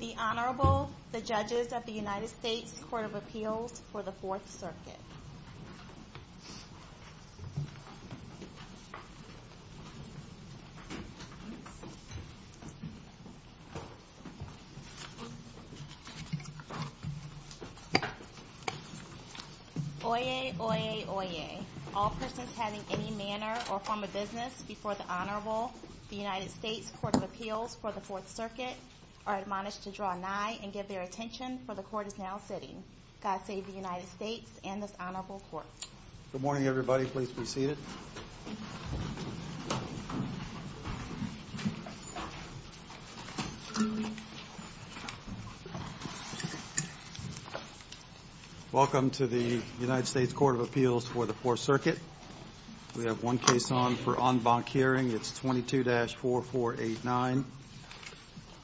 The Honorable, the Judges of the United States Court of Appeals for the Fourth Circuit. Oyez, oyez, oyez. All persons having any manner or form of business before the Honorable, the United States Court of Appeals for the Fourth Circuit, are admonished to draw nigh and give their attention, for the Court is now sitting. God save the United States and this Honorable Court. Good morning, everybody. Please be seated. Welcome to the United States Court of Appeals for the Fourth Circuit. We have one case on for en banc hearing. It's 22-4489.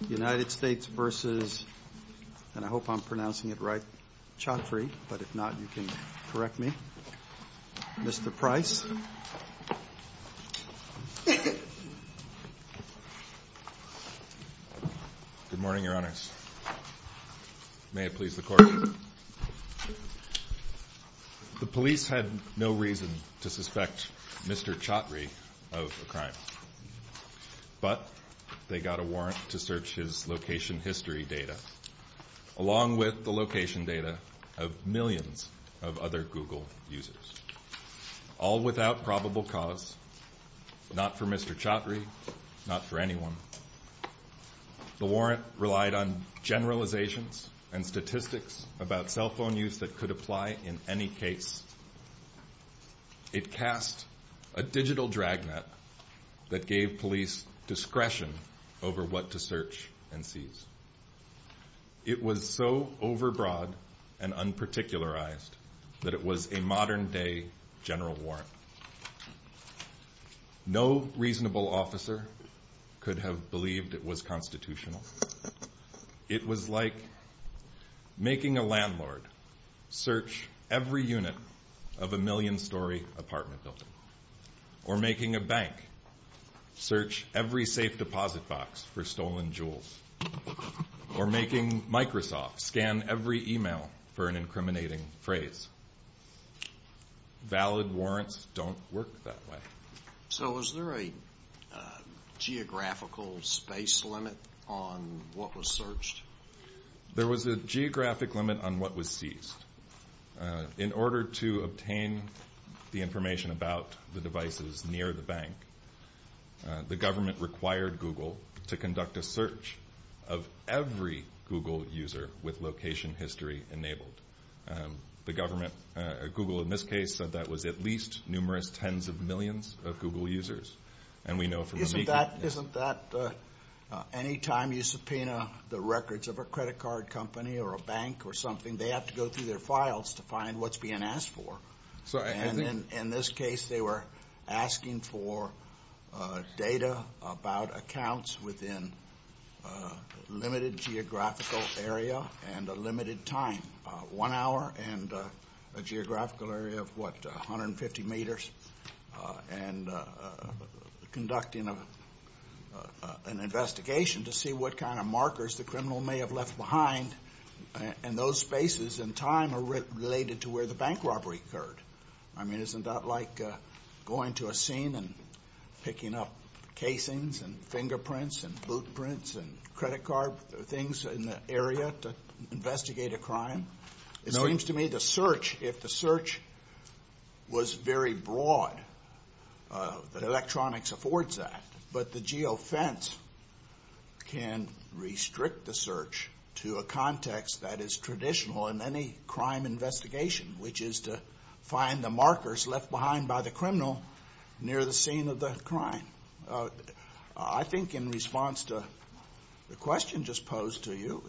United States versus, and I hope I'm pronouncing it right, Chatrie, but if not, you can correct me. Mr. Price. Good morning, Your Honors. May it please the Court. The police had no reason to suspect Mr. Chatrie of the crime, but they got a warrant to search his location history data, along with the location data of millions of other Google users. All without probable cause, not for Mr. Chatrie, not for anyone. The warrant relied on generalizations and statistics about cell phone use that could apply in any case. It cast a digital dragnet that gave police discretion over what to search and seize. It was so overbroad and unparticularized that it was a modern-day general warrant. No reasonable officer could have believed it was constitutional. It was like making a landlord search every unit of a million-story apartment building, or making a bank search every safe deposit box for stolen jewels. Or making Microsoft scan every email for an incriminating phrase. Valid warrants don't work that way. So was there a geographical space limit on what was searched? There was a geographic limit on what was seized. In order to obtain the information about the devices near the bank, the government required Google to conduct a search of every Google user with location history enabled. The government, Google in this case, said that was at least numerous tens of millions of Google users. Isn't that any time you subpoena the records of a credit card company or a bank or something, they have to go through their files to find what's being asked for? In this case, they were asking for data about accounts within a limited geographical area and a limited time. One hour and a geographical area of what, 150 meters? And conducting an investigation to see what kind of markers the criminal may have left behind, and those spaces and time are related to where the bank robbery occurred. I mean, isn't that like going to a scene and picking up casings and fingerprints and blueprints and credit card things in the area to investigate a crime? It seems to me the search, if the search was very broad, electronics affords that, but the geofence can restrict the search to a context that is traditional in any crime investigation, which is to find the markers left behind by the criminal near the scene of the crime. I think in response to the question just posed to you,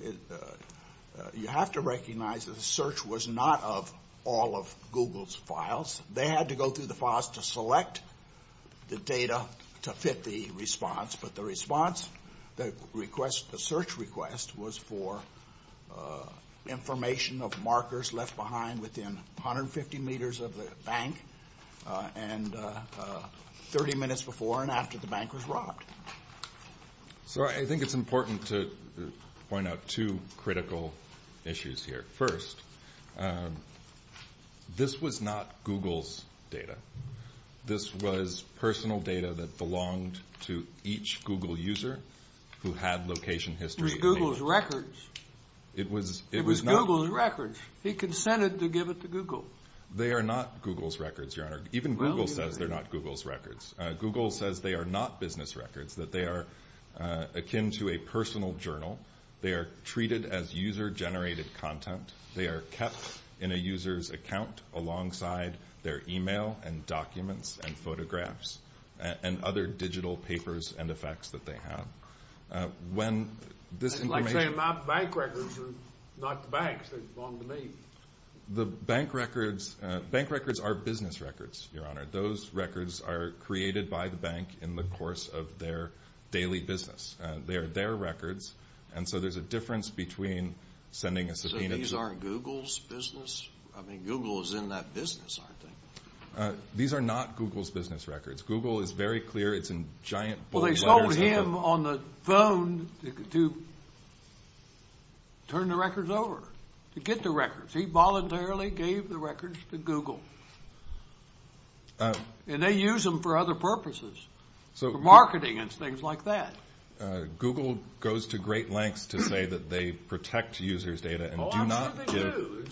you have to recognize that the search was not of all of Google's files. They had to go through the files to select the data to fit the response, but the search request was for information of markers left behind within 150 meters of the bank and 30 minutes before and after the bank was robbed. So I think it's important to point out two critical issues here. First, this was not Google's data. This was personal data that belonged to each Google user who had location history. It was Google's records. It was Google's records. He consented to give it to Google. They are not Google's records, Your Honor. Even Google says they're not Google's records. Google says they are not business records, that they are akin to a personal journal. They are treated as user-generated content. They are kept in a user's account alongside their email and documents and photographs and other digital papers and effects that they have. It's like saying my bank records are not the bank's. It's wrong to me. Bank records are business records, Your Honor. Those records are created by the bank in the course of their daily business. They are their records, and so there's a difference between sending a subpoena… So these aren't Google's business? I mean, Google is in that business, aren't they? These are not Google's business records. Google is very clear. It's in giant… Well, they sold him on the phone to turn the records over, to get the records. He voluntarily gave the records to Google, and they use them for other purposes, for marketing and things like that. Google goes to great lengths to say that they protect user's data and do not give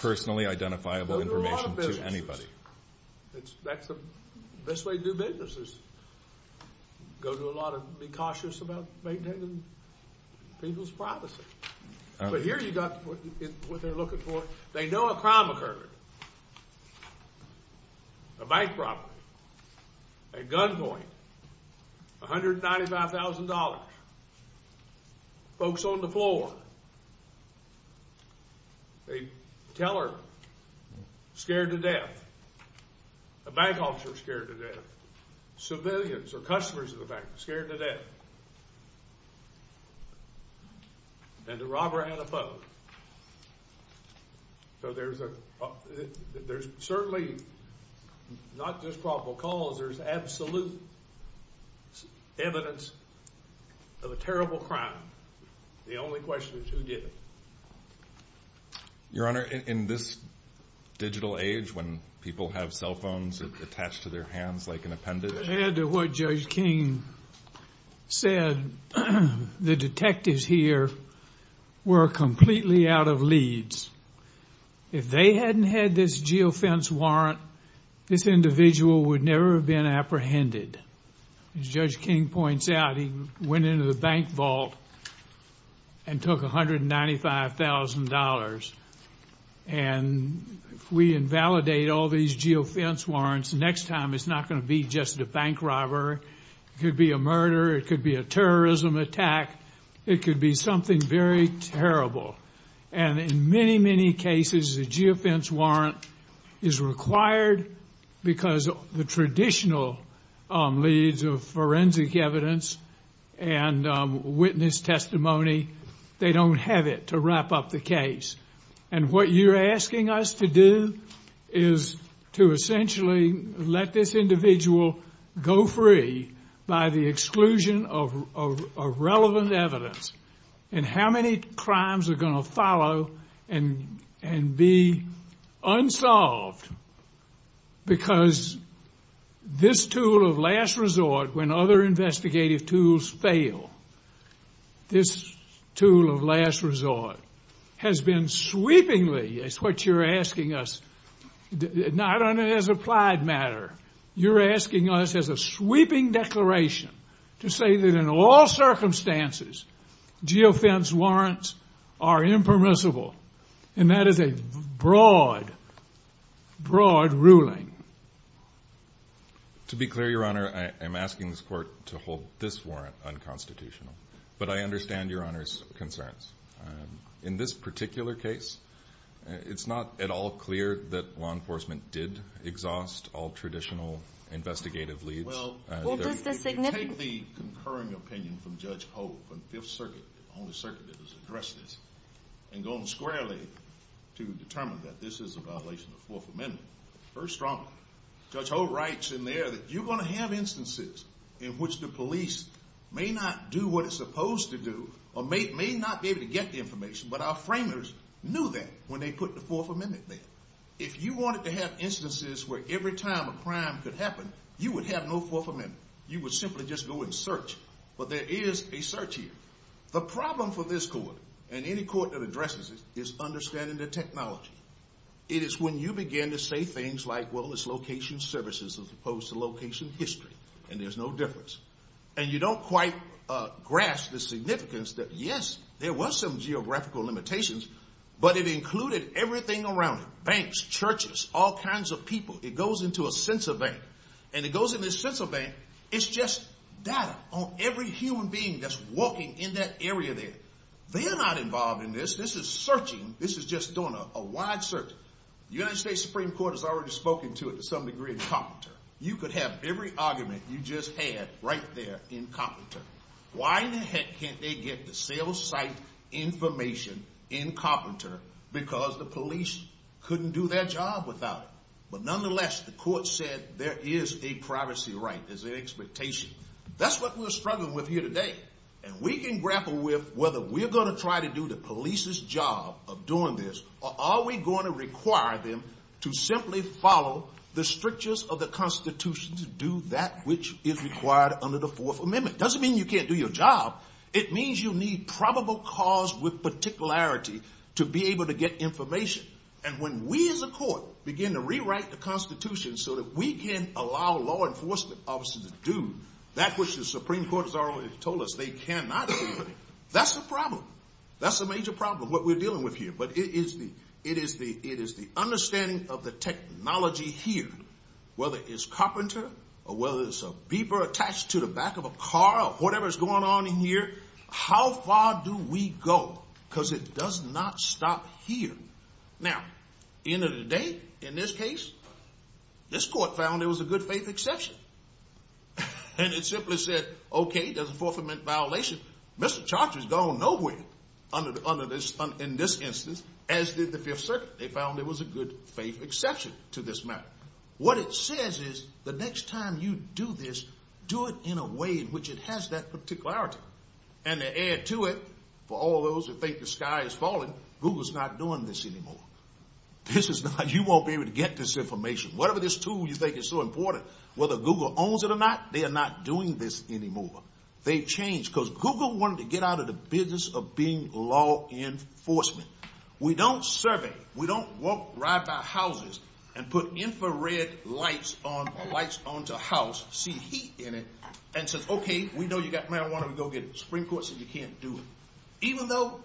personally identifiable information to anybody. That's the best way to do business is go to a lot of… be cautious about maintaining people's privacy. But here you've got what they're looking for. They know a crime occurred, a bank robbery, a gunpoint, $195,000, folks on the floor, a teller scared to death, a bank officer scared to death, civilians or customers of the bank scared to death. And the robber had a phone. So there's certainly not just probable cause, there's absolute evidence of a terrible crime. The only question is who did it? Your Honor, in this digital age when people have cell phones attached to their hands like an appendage… To add to what Judge King said, the detectives here were completely out of leads. If they hadn't had this geofence warrant, this individual would never have been apprehended. As Judge King points out, he went into the bank vault and took $195,000. And if we invalidate all these geofence warrants, next time it's not going to be just a bank robbery. It could be a murder. It could be a terrorism attack. It could be something very terrible. And in many, many cases, the geofence warrant is required because the traditional leads of forensic evidence and witness testimony, they don't have it to wrap up the case. And what you're asking us to do is to essentially let this individual go free by the exclusion of relevant evidence. And how many crimes are going to follow and be unsolved? Because this tool of last resort, when other investigative tools fail, this tool of last resort has been sweepingly, is what you're asking us, not only as applied matter, you're asking us as a sweeping declaration to say that in all circumstances geofence warrants are impermissible. And that is a broad, broad ruling. To be clear, Your Honor, I'm asking this court to hold this warrant unconstitutional. But I understand Your Honor's concerns. In this particular case, it's not at all clear that law enforcement did exhaust all traditional investigative leads. Well, take the concurring opinion from Judge Holt from Fifth Circuit, the only circuit that was addressed this, and go on squarely to determine that this is a violation of the Fourth Amendment. First strong, Judge Holt writes in there that you're going to have instances in which the police may not do what it's supposed to do, or may not be able to get the information, but our framers knew that when they put the Fourth Amendment there. If you wanted to have instances where every time a crime could happen, you would have no Fourth Amendment. You would simply just go and search. But there is a search here. The problem for this court, and any court that addresses it, is understanding the technology. It is when you begin to say things like, well, it's location services as opposed to location history, and there's no difference. And you don't quite grasp the significance that, yes, there was some geographical limitations, but it included everything around it. Banks, churches, all kinds of people. It goes into a center bank. And it goes into the central bank. It's just data on every human being that's walking in that area there. They're not involved in this. This is searching. This is just doing a wide search. The United States Supreme Court has already spoken to it to some degree in Carpenter. You could have every argument you just had right there in Carpenter. Why in the heck can't they get the sales site information in Carpenter because the police couldn't do their job without it? But nonetheless, the court said there is a privacy right. There's an expectation. That's what we're struggling with here today. And we can grapple with whether we're going to try to do the police's job of doing this, or are we going to require them to simply follow the strictures of the Constitution to do that which is required under the Fourth Amendment? It doesn't mean you can't do your job. It means you need probable cause with particularity to be able to get information. And when we as a court begin to rewrite the Constitution so that we can allow law enforcement officers to do that which the Supreme Court has already told us they cannot do, that's a problem. That's a major problem, what we're dealing with here. But it is the understanding of the technology here, whether it's Carpenter or whether it's a beeper attached to the back of a car or whatever is going on in here, how far do we go? Because it does not stop here. Now, at the end of the day, in this case, this court found there was a good-faith exception. And it simply said, okay, that's a Fourth Amendment violation. Mr. Charter's gone no where in this instance, as did the Fifth Circuit. They found there was a good-faith exception to this matter. What it says is the next time you do this, do it in a way in which it has that particularity. And to add to it, for all those who think the sky is falling, Google's not doing this anymore. You won't be able to get this information. Whatever this tool you think is so important, whether Google owns it or not, they are not doing this anymore. They've changed. Because Google wanted to get out of the business of being law enforcement. We don't survey. We don't walk right by houses and put infrared lights onto a house, see heat in it, and say, okay, we know you've got marijuana, go get it. The Supreme Court said you can't do it, even though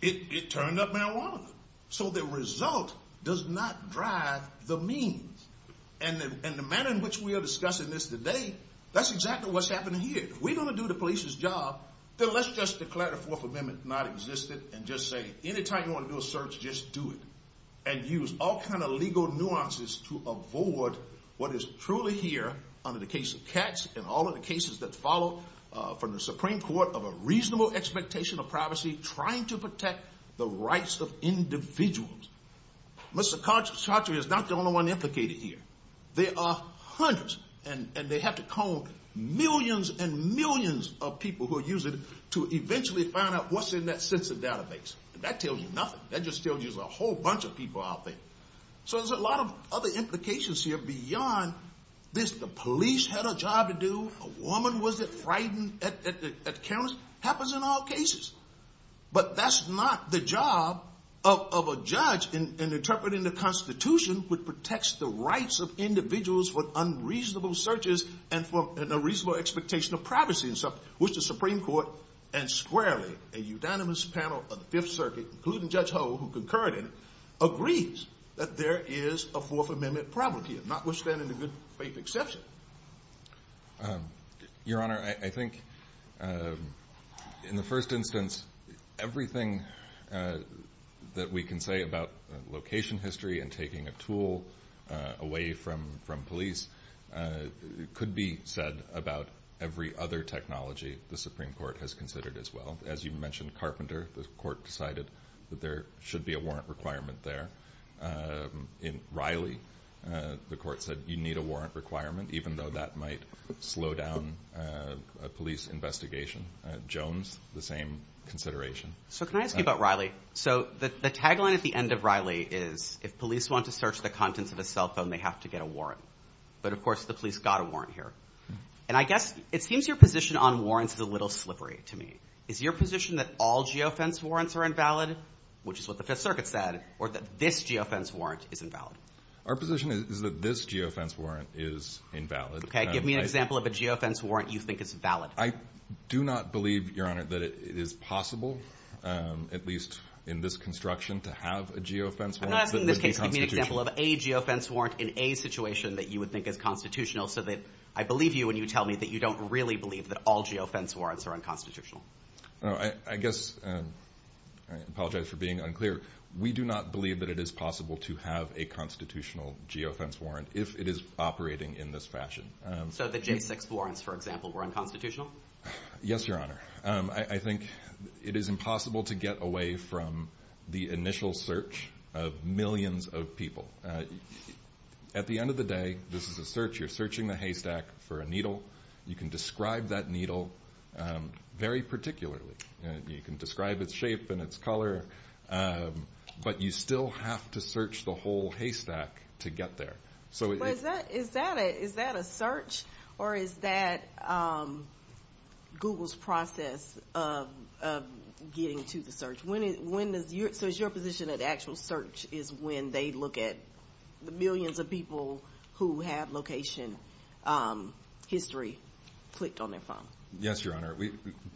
it turned up marijuana. So the result does not drive the means. And the manner in which we are discussing this today, that's exactly what's happening here. If we're going to do the police's job, then let's just declare the Fourth Amendment not existent and just say, anytime you want to do a search, just do it. And use all kind of legal nuances to avoid what is truly here under the case of Katz and all of the cases that follow from the Supreme Court of a reasonable expectation of privacy trying to protect the rights of individuals. But psychiatry is not the only one implicated here. There are hundreds, and they have to call millions and millions of people who are using it to eventually find out what's in that census database. And that tells you nothing. That just tells you there's a whole bunch of people out there. So there's a lot of other implications here beyond this, the police had a job to do, a woman was frightened, happens in all cases. But that's not the job of a judge in interpreting the Constitution, which protects the rights of individuals with unreasonable searches and a reasonable expectation of privacy. Your Honor, I think in the first instance, everything that we can say about location history and taking a tool away from police could be said about every other technology. The Supreme Court has considered as well. As you mentioned, Carpenter, the court decided that there should be a warrant requirement there. In Riley, the court said you need a warrant requirement, even though that might slow down a police investigation. Jones, the same consideration. So can I ask you about Riley? So the tagline at the end of Riley is if police want to search the contents of a cell phone, they have to get a warrant. But of course, the police got a warrant here. And I guess it seems your position on warrants is a little slippery to me. Is your position that all geofence warrants are invalid, which is what the Fifth Circuit said, or that this geofence warrant is invalid? Our position is that this geofence warrant is invalid. Give me an example of a geofence warrant you think is valid. I do not believe, Your Honor, that it is possible, at least in this construction, to have a geofence warrant. Give me an example of a geofence warrant in a situation that you would think is constitutional so that I believe you when you tell me that you don't really believe that all geofence warrants are unconstitutional. I guess I apologize for being unclear. We do not believe that it is possible to have a constitutional geofence warrant if it is operating in this fashion. So the J6 warrants, for example, were unconstitutional? Yes, Your Honor. I think it is impossible to get away from the initial search of millions of people. At the end of the day, this is a search. You're searching the haystack for a needle. You can describe that needle very particularly. You can describe its shape and its color, but you still have to search the whole haystack to get there. Is that a search or is that Google's process of getting to the search? So is your position that actual search is when they look at the millions of people who have location history clicked on their phone? Yes, Your Honor.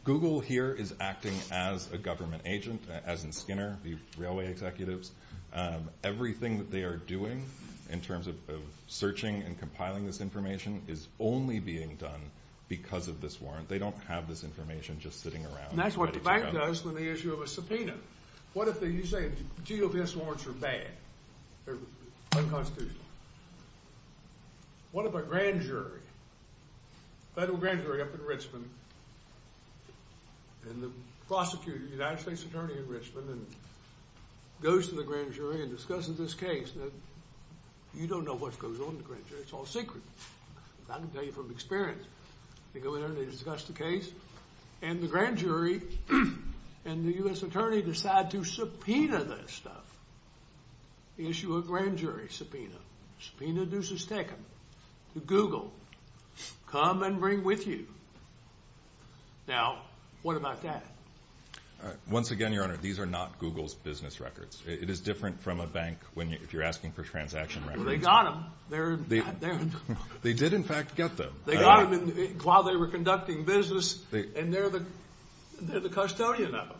Google here is acting as a government agent, as is Skinner, the railway executives. Everything that they are doing in terms of searching and compiling this information is only being done because of this warrant. They don't have this information just sitting around. That's what the fact is on the issue of a subpoena. What if a grand jury, federal grand jury up in Richmond, and the prosecutor, the United States attorney in Richmond, goes to the grand jury and discusses this case? You don't know what goes on in the grand jury. It's all secret. I can tell you from experience. They go there, they discuss the case, and the grand jury and the U.S. attorney decide to subpoena this stuff. Issue a grand jury subpoena. Subpoena dues is taken to Google. Come and bring with you. Now, what about that? Once again, Your Honor, these are not Google's business records. It is different from a bank if you're asking for transaction records. Well, they got them. They did, in fact, get them. They got them while they were conducting business, and they're the custodian of them.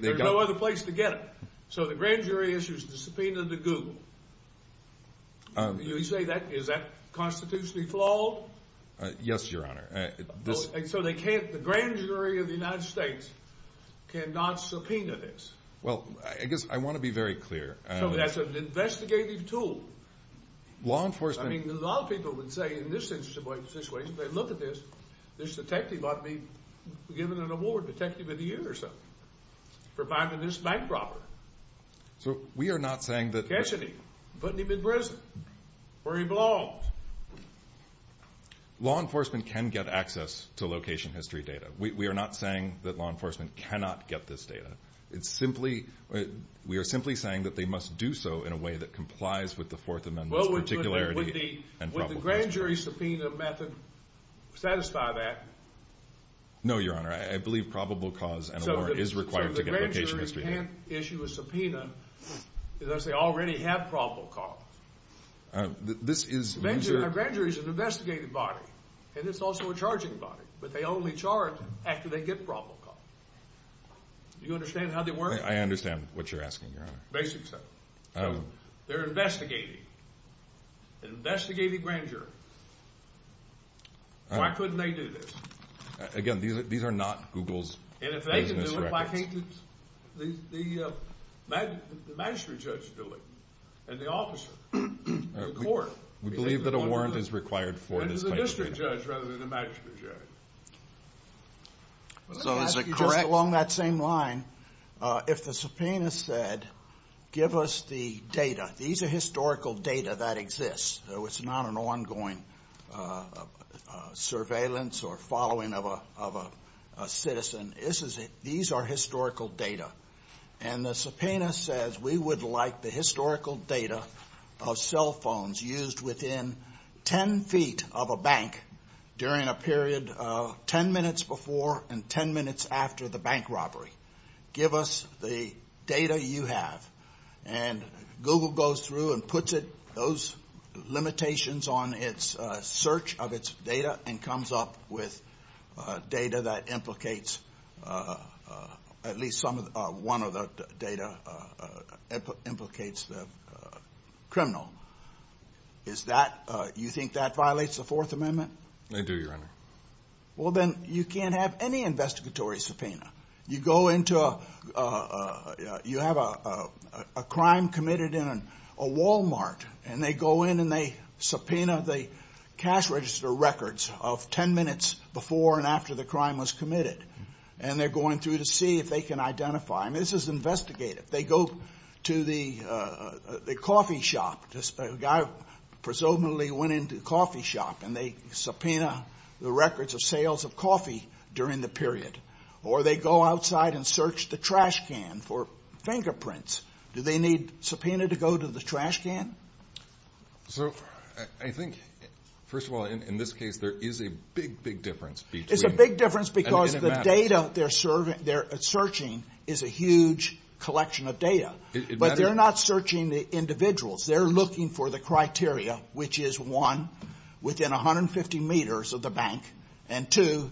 There's no other place to get them. So the grand jury issues the subpoena to Google. Is that constitutionally flawed? Yes, Your Honor. So the grand jury of the United States cannot subpoena this? Well, I want to be very clear. That's an investigative tool. Law enforcement. I mean, a lot of people would say in this situation, if they look at this, this detective ought to be given an award, detective of the year or something, for finding this bank robber. So we are not saying that. Ketcheney. Put him in prison, where he belongs. Law enforcement can get access to location history data. We are not saying that law enforcement cannot get this data. It's simply, we are simply saying that they must do so in a way that complies with the Fourth Amendment. Well, would the grand jury subpoena method satisfy that? No, Your Honor. I believe probable cause and award is required to get location history data. So the grand jury can't issue a subpoena unless they already have probable cause? Grand jury is an investigative body, and it's also a charging body, but they only charge after they get probable cause. Do you understand how they work? I understand what you're asking, Your Honor. Basically. They're investigating. Investigating grand jury. Why couldn't they do this? Again, these are not Google's business records. And if they can do it, why can't the magistrate judge do it, and the officer, and the court? We believe that award is required for this case. But it's the district judge rather than the magistrate judge. So is it correct? Ten minutes before and ten minutes after the bank robbery. Give us the data you have. And Google goes through and puts those limitations on its search of its data and comes up with data that implicates, at least one of the data, implicates the criminal. Is that, you think that violates the Fourth Amendment? I do, Your Honor. The records of sales of coffee during the period. Or they go outside and search the trash can for fingerprints. Do they need subpoena to go to the trash can? So I think, first of all, in this case, there is a big, big difference. It's a big difference because the data they're searching is a huge collection of data. But they're not searching the individuals. They're looking for the criteria, which is, one, within 150 meters of the bank, and two,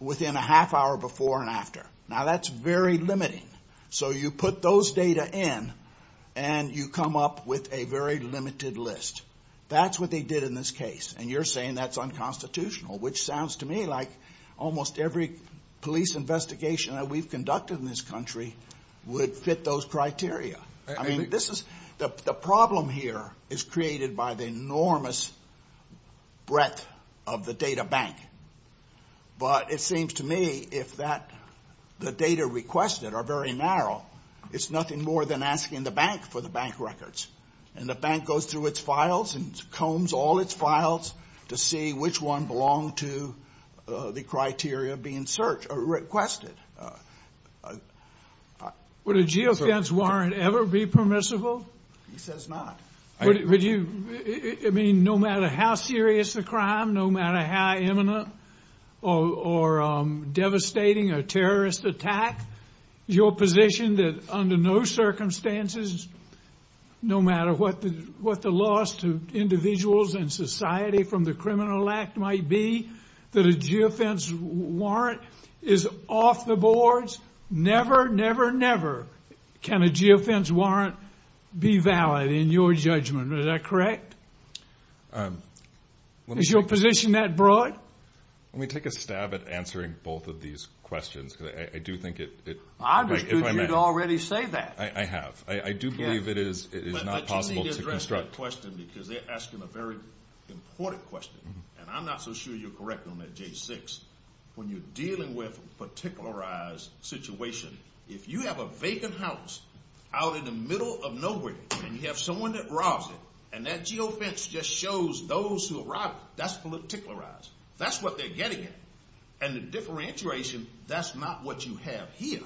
within a half hour before and after. Now, that's very limiting. So you put those data in, and you come up with a very limited list. That's what they did in this case. And you're saying that's unconstitutional, which sounds to me like almost every police investigation that we've conducted in this country would fit those criteria. I mean, the problem here is created by the enormous breadth of the data bank. But it seems to me, if the data requested are very narrow, it's nothing more than asking the bank for the bank records. And the bank goes through its files and combs all its files to see which one belonged to the criteria being requested. Would a geofence warrant ever be permissible? It says not. Never, never, never can a geofence warrant be valid, in your judgment. Is that correct? Is your position that broad? Let me take a stab at answering both of these questions. I do think it... I was going to say that. I have. I do believe it is not possible to construct... I just need to address that question, because they're asking a very important question. And I'm not so sure you're correct on that, J6. When you're dealing with a particularized situation, if you have a vacant house out in the middle of nowhere, and you have someone that robs it, and that geofence just shows those who robbed it, that's particularized. That's what they're getting at. And the differentiation, that's not what you have here.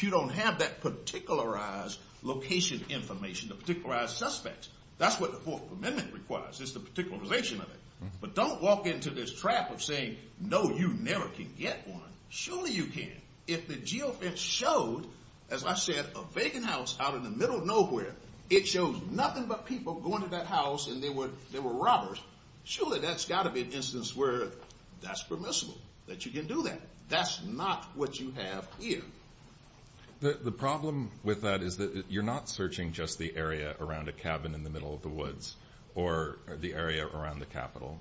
You don't have that particularized location information, the particularized suspects. That's what the Fourth Amendment requires. It's the particularization of it. But don't walk into this trap of saying, no, you never can get one. Surely you can. If the geofence shows, as I said, a vacant house out in the middle of nowhere, it shows nothing but people going to that house, and they were robbers, surely that's got to be an instance where that's permissible, that you can do that. That's not what you have here. The problem with that is that you're not searching just the area around a cabin in the middle of the woods, or the area around the Capitol.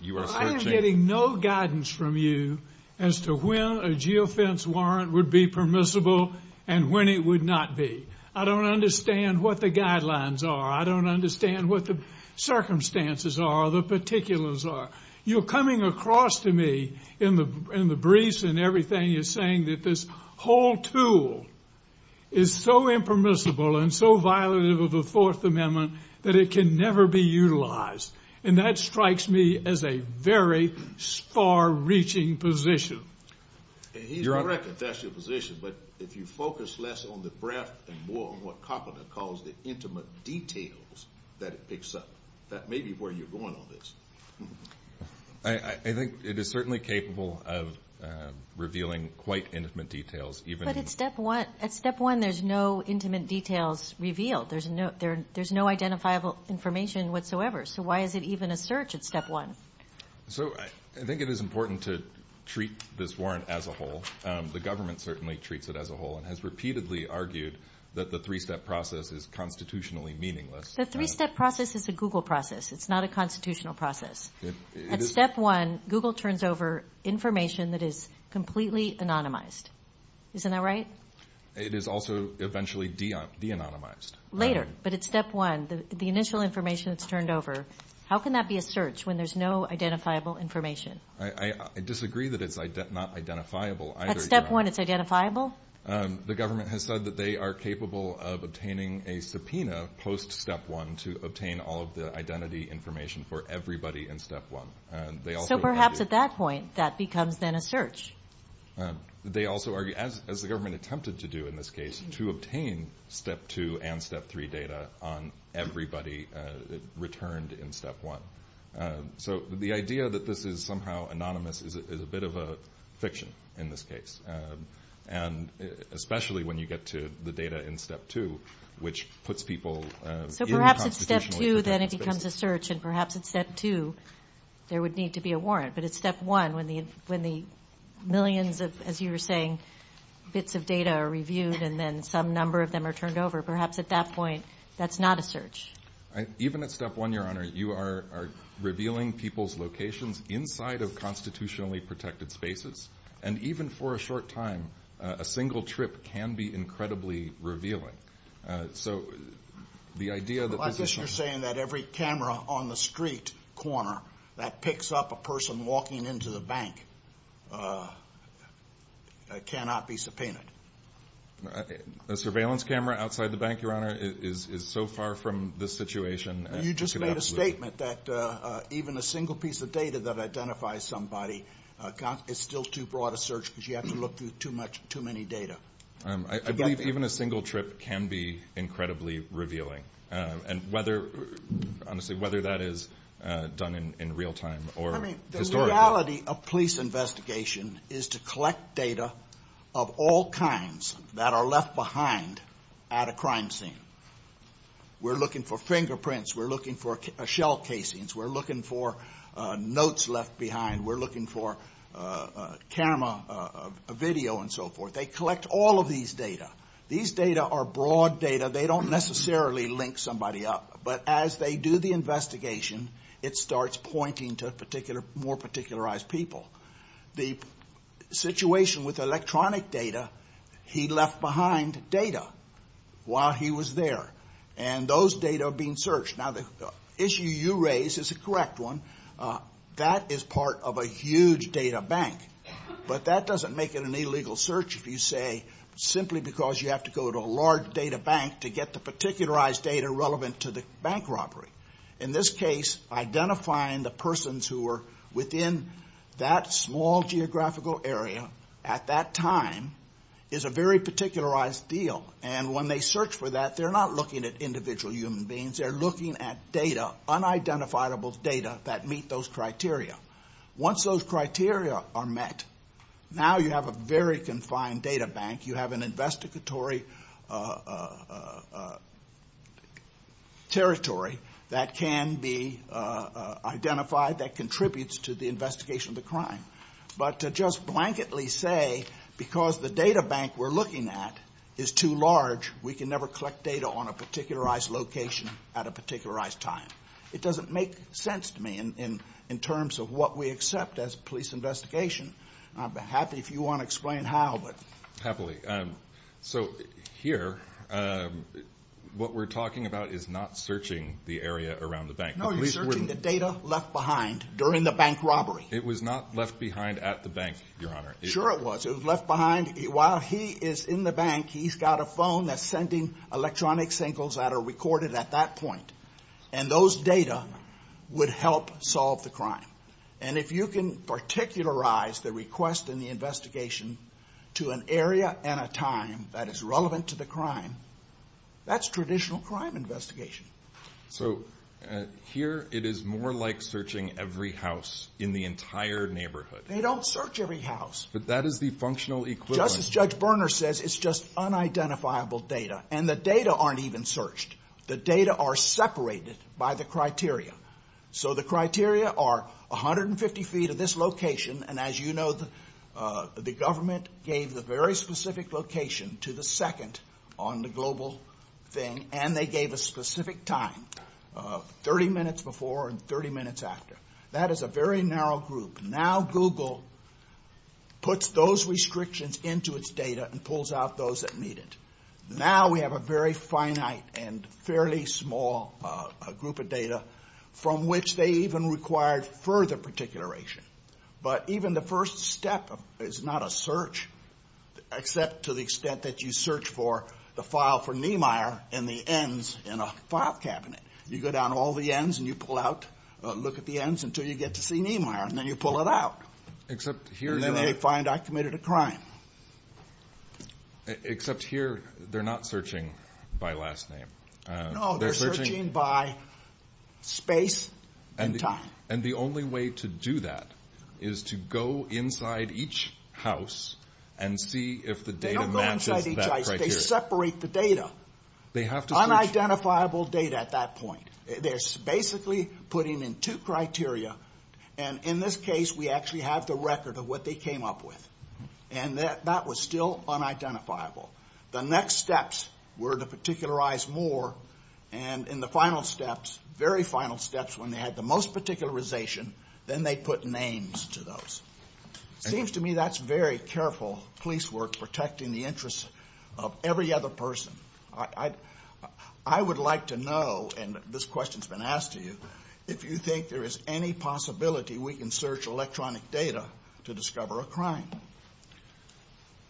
You are searching... I'm getting no guidance from you as to when a geofence warrant would be permissible and when it would not be. I don't understand what the guidelines are. I don't understand what the circumstances are, the particulars are. You're coming across to me in the briefs and everything, you're saying that this whole tool is so impermissible and so violative of the Fourth Amendment that it can never be utilized. And that strikes me as a very far-reaching position. And he's correct if that's your position, but if you focus less on the breadth and more on what Carpenter calls the intimate details that it picks up, that may be where you're going on this. I think it is certainly capable of revealing quite intimate details. But at step one there's no intimate details revealed. There's no identifiable information whatsoever, so why is it even a search at step one? I think it is important to treat this warrant as a whole. The government certainly treats it as a whole and has repeatedly argued that the three-step process is constitutionally meaningless. The three-step process is the Google process. It's not a constitutional process. At step one, Google turns over information that is completely anonymized. Isn't that right? It is also eventually de-anonymized. Later, but at step one, the initial information is turned over. How can that be a search when there's no identifiable information? I disagree that it's not identifiable. At step one, it's identifiable? The government has said that they are capable of obtaining a subpoena post-step one to obtain all of the identity information for everybody in step one. So perhaps at that point, that becomes then a search. They also argue, as the government attempted to do in this case, to obtain step two and step three data on everybody returned in step one. So the idea that this is somehow anonymous is a bit of a fiction in this case, especially when you get to the data in step two, which puts people in a constitutional situation. At step two, then it becomes a search, and perhaps at step two, there would need to be a warrant. But at step one, when the millions of, as you were saying, bits of data are reviewed and then some number of them are turned over, perhaps at that point, that's not a search. Even at step one, Your Honor, you are revealing people's locations inside of constitutionally protected spaces. And even for a short time, a single trip can be incredibly revealing. Well, I guess you're saying that every camera on the street corner that picks up a person walking into the bank cannot be subpoenaed. A surveillance camera outside the bank, Your Honor, is so far from this situation. You just made a statement that even a single piece of data that identifies somebody is still too broad a search because you have to look through too many data. I believe even a single trip can be incredibly revealing, honestly, whether that is done in real time or historical. The reality of police investigation is to collect data of all kinds that are left behind at a crime scene. We're looking for fingerprints, we're looking for shell casings, we're looking for notes left behind, we're looking for camera video and so forth. They collect all of these data. These data are broad data. They don't necessarily link somebody up. But as they do the investigation, it starts pointing to more particularized people. The situation with electronic data, he left behind data while he was there. And those data are being searched. Now, the issue you raise is a correct one. That is part of a huge data bank. But that doesn't make it an illegal search if you say simply because you have to go to a large data bank to get the particularized data relevant to the bank robbery. In this case, identifying the persons who were within that small geographical area at that time is a very particularized deal. And when they search for that, they're not looking at individual human beings. They're looking at data, unidentifiable data that meet those criteria. Once those criteria are met, now you have a very confined data bank. You have an investigatory territory that can be identified that contributes to the investigation of the crime. But to just blanketly say because the data bank we're looking at is too large, we can never collect data on a particularized location at a particularized time. It doesn't make sense to me in terms of what we accept as police investigation. I'd be happy if you want to explain how. Happily. So here, what we're talking about is not searching the area around the bank. No, you're searching the data left behind during the bank robbery. It was not left behind at the bank, Your Honor. Sure it was. It was left behind. While he is in the bank, he's got a phone that's sending electronic singles that are recorded at that point. And those data would help solve the crime. And if you can particularize the request in the investigation to an area and a time that is relevant to the crime, that's traditional crime investigation. So here it is more like searching every house in the entire neighborhood. They don't search every house. But that is the functional equivalent. Just as Judge Berner says, it's just unidentifiable data. And the data aren't even searched. The data are separated by the criteria. So the criteria are 150 feet of this location. And as you know, the government gave the very specific location to the second on the global thing. And they gave a specific time, 30 minutes before and 30 minutes after. That is a very narrow group. Now Google puts those restrictions into its data and pulls out those that need it. Now we have a very finite and fairly small group of data from which they even required further particularization. But even the first step is not a search, except to the extent that you search for the file for Niemeyer and the ends in a file cabinet. You go down all the ends and you pull out, look at the ends until you get to see Niemeyer. And then you pull it out. And then they find I committed a crime. Except here, they're not searching by last name. No, they're searching by space and time. And the only way to do that is to go inside each house and see if the data matches that criteria. They separate the data. Unidentifiable data at that point. They're basically putting in two criteria. And in this case, we actually have the record of what they came up with. And that was still unidentifiable. The next steps were to particularize more. And in the final steps, very final steps, when they had the most particularization, then they put names to those. It seems to me that's very careful police work, protecting the interests of every other person. I would like to know, and this question's been asked to you, if you think there is any possibility we can search electronic data to discover a crime.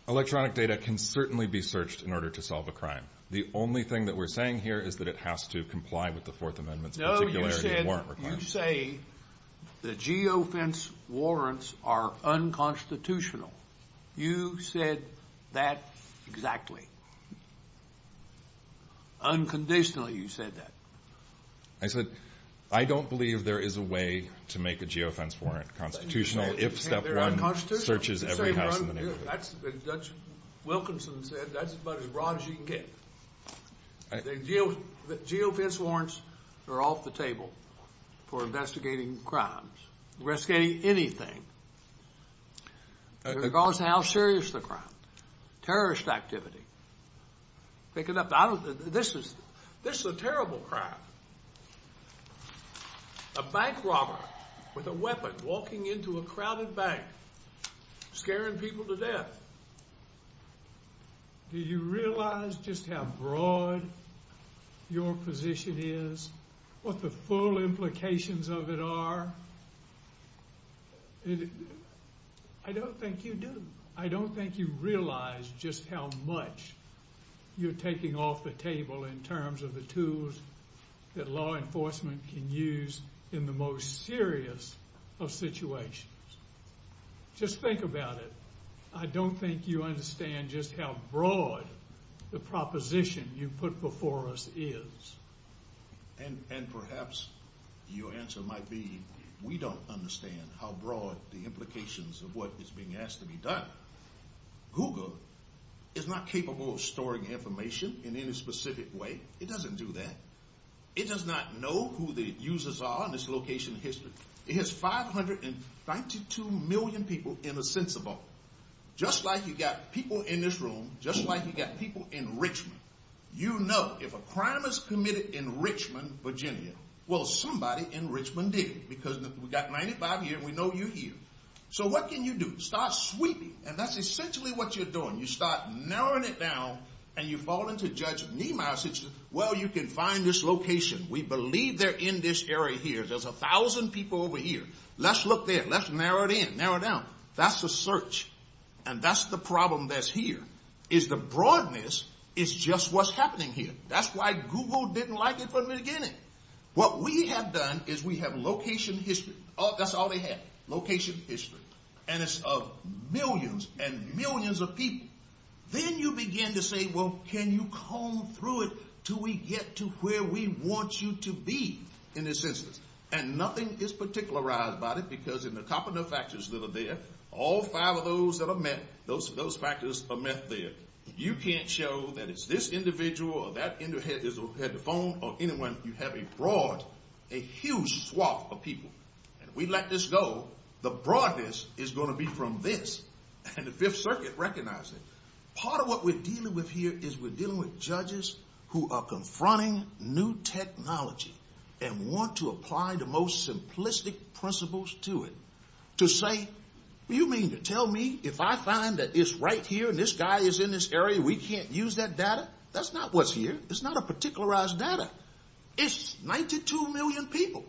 Electronic data can certainly be searched in order to solve a crime. The only thing that we're saying here is that it has to comply with the Fourth Amendment's particularity of warrant requests. No, you said the geofence warrants are unconstitutional. You said that exactly. Unconditionally, you said that. I said I don't believe there is a way to make a geofence warrant constitutional if Step 1 searches every house in the neighborhood. That's what Judge Wilkinson said. That's about as broad as you can get. The geofence warrants are off the table for investigating crimes, investigating anything, regardless of how serious the crime. Terrorist activity. This is a terrible crime. A bank robber with a weapon walking into a crowded bank, scaring people to death. Do you realize just how broad your position is, what the full implications of it are? I don't think you do. I don't think you realize just how much you're taking off the table in terms of the tools that law enforcement can use in the most serious of situations. Just think about it. I don't think you understand just how broad the proposition you put before us is. And perhaps your answer might be we don't understand how broad the implications of what is being asked to be done. Google is not capable of storing information in any specific way. It doesn't do that. It does not know who the users are in its location history. It has 592 million people in a sense of all. Just like you've got people in this room, just like you've got people in Richmond, you know if a crime is committed in Richmond, Virginia, well somebody in Richmond did it. Because we've got 95 here and we know you're here. So what can you do? Start sweeping. And that's essentially what you're doing. You start narrowing it down and you fall into Judge Niemeyer's situation. Well, you can find this location. We believe they're in this area here. There's a thousand people over here. Let's look there. Let's narrow it in. Narrow it down. That's the search. And that's the problem that's here is the broadness is just what's happening here. That's why Google didn't like it from the beginning. What we have done is we have location history. That's all they have, location history. And it's of millions and millions of people. Then you begin to say, well, can you comb through it till we get to where we want you to be in a sense? And nothing is particularized about it because in the top of the factors that are there, all five of those that are met, those factors are met there. You can't show that it's this individual or that phone or anyone. You have a broad, a huge swath of people. And if we let this go, the broadness is going to be from this. And the Fifth Circuit recognizes it. Part of what we're dealing with here is we're dealing with judges who are confronting new technology and want to apply the most simplistic principles to it. To say, you mean to tell me if I find that it's right here, this guy is in this area, we can't use that data? That's not what's here. It's not a particularized data. It's 92 million people.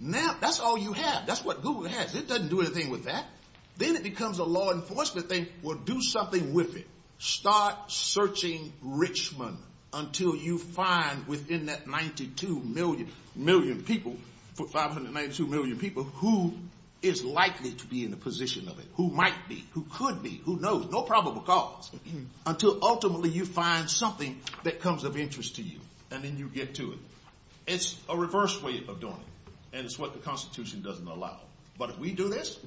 Now, that's all you have. That's what Google has. It doesn't do anything with that. Then it becomes a law enforcement thing. Well, do something with it. Start searching Richmond until you find within that 92 million people, 592 million people, who is likely to be in the position of it. Who might be. Who could be. Who knows. No probable cause. Until ultimately you find something that comes of interest to you. And then you get to it. It's a reverse way of doing it. And it's what the Constitution doesn't allow. But if we do this,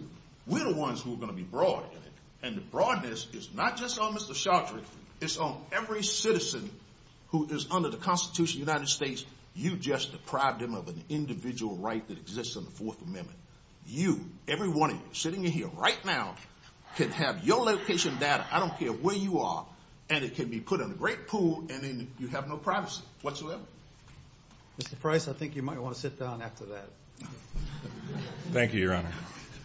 we're the ones who are going to be broad in it. And the broadness is not just on Mr. Chaudhry. It's on every citizen who is under the Constitution of the United States. You just deprived them of an individual right that exists in the Fourth Amendment. You, every one of you, sitting in here right now, can have your location data, I don't care where you are, and it can be put in a great pool and then you have no privacy whatsoever. Mr. Price, I think you might want to sit down after that. Thank you, Your Honor.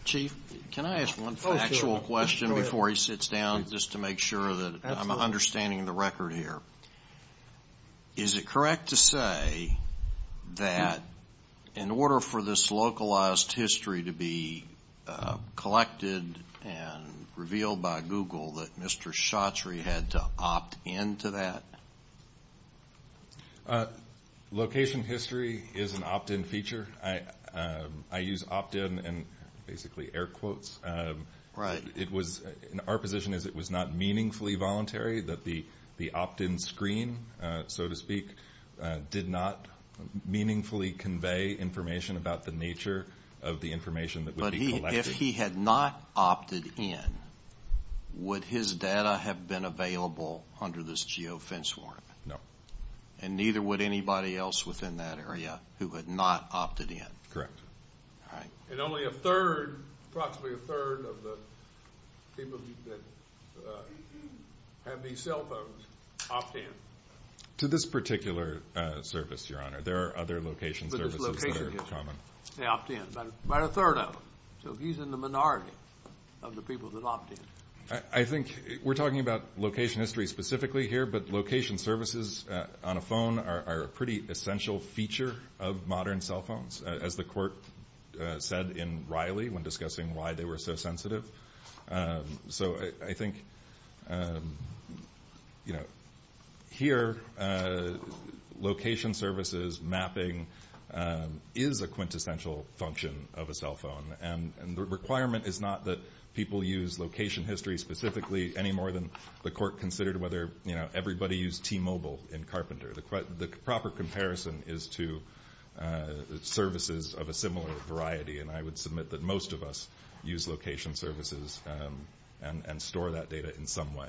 Chief, can I ask one factual question before he sits down, just to make sure that I'm understanding the record here? Is it correct to say that in order for this localized history to be collected and revealed by Google, that Mr. Chaudhry had to opt in to that? Location history is an opt-in feature. I use opt-in and basically air quotes. Right. Our position is it was not meaningfully voluntary, that the opt-in screen, so to speak, did not meaningfully convey information about the nature of the information that would be collected. If he had not opted in, would his data have been available under this geofence warrant? No. And neither would anybody else within that area who had not opted in? Correct. All right. And only a third, approximately a third of the people that have these cell phones opt in. To this particular service, Your Honor. There are other location services that are common. They opt in. About a third of them. So he's in the minority of the people that opt in. I think we're talking about location history specifically here, but location services on a phone are a pretty essential feature of modern cell phones, as the court said in Riley when discussing why they were so sensitive. So I think, you know, here location services mapping is a quintessential function of a cell phone. And the requirement is not that people use location history specifically any more than the court considered whether, you know, everybody used T-Mobile in Carpenter. The proper comparison is to services of a similar variety, and I would submit that most of us use location services and store that data in some way.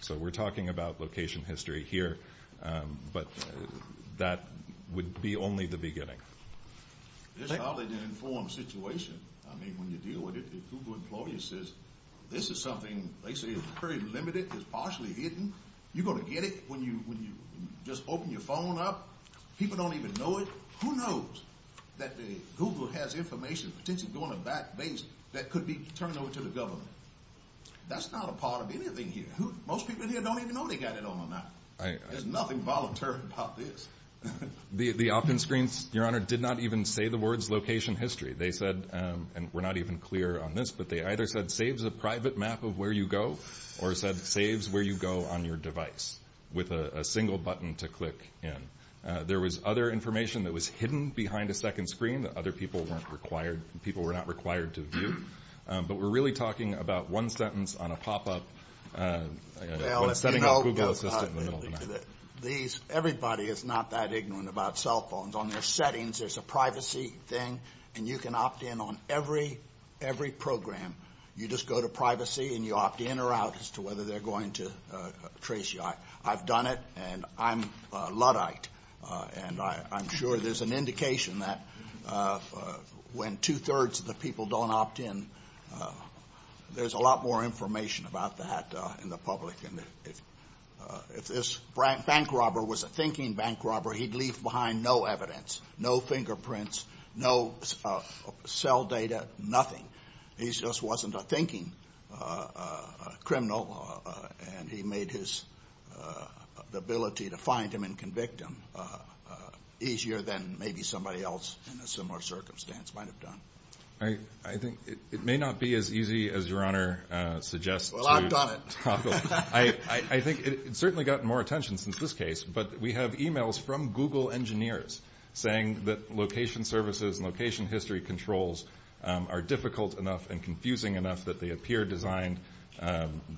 So we're talking about location history here, but that would be only the beginning. It's probably the informed situation. I mean, when you deal with it, the Google employee says, this is something, they say it's very limited, it's partially hidden. You're going to get it when you just open your phone up? People don't even know it? Who knows that Google has information potentially going to a back base that could be turned over to the government? That's not a part of anything here. Most people here don't even know they got it on them. There's nothing voluntary about this. The opt-in screens, Your Honor, did not even say the words location history. They said, and we're not even clear on this, but they either said saves a private map of where you go or said saves where you go on your device with a single button to click in. There was other information that was hidden behind a second screen that other people weren't required, people were not required to view. But we're really talking about one sentence on a pop-up. Well, everybody is not that ignorant about cell phones. On their settings, there's a privacy thing, and you can opt in on every program. You just go to privacy, and you opt in or out as to whether they're going to trace you. I've done it, and I'm Luddite, and I'm sure there's an indication that when two-thirds of the people don't opt in, there's a lot more information about that. If this bank robber was a thinking bank robber, he'd leave behind no evidence, no fingerprints, no cell data, nothing. He just wasn't a thinking criminal, and he made his ability to find him and convict him easier than maybe somebody else in a similar circumstance might have done. I think it may not be as easy as your Honor suggests. Well, I've got it. I think it's certainly gotten more attention since this case, but we have e-mails from Google engineers saying that location services and location history controls are difficult enough and confusing enough that they appear designed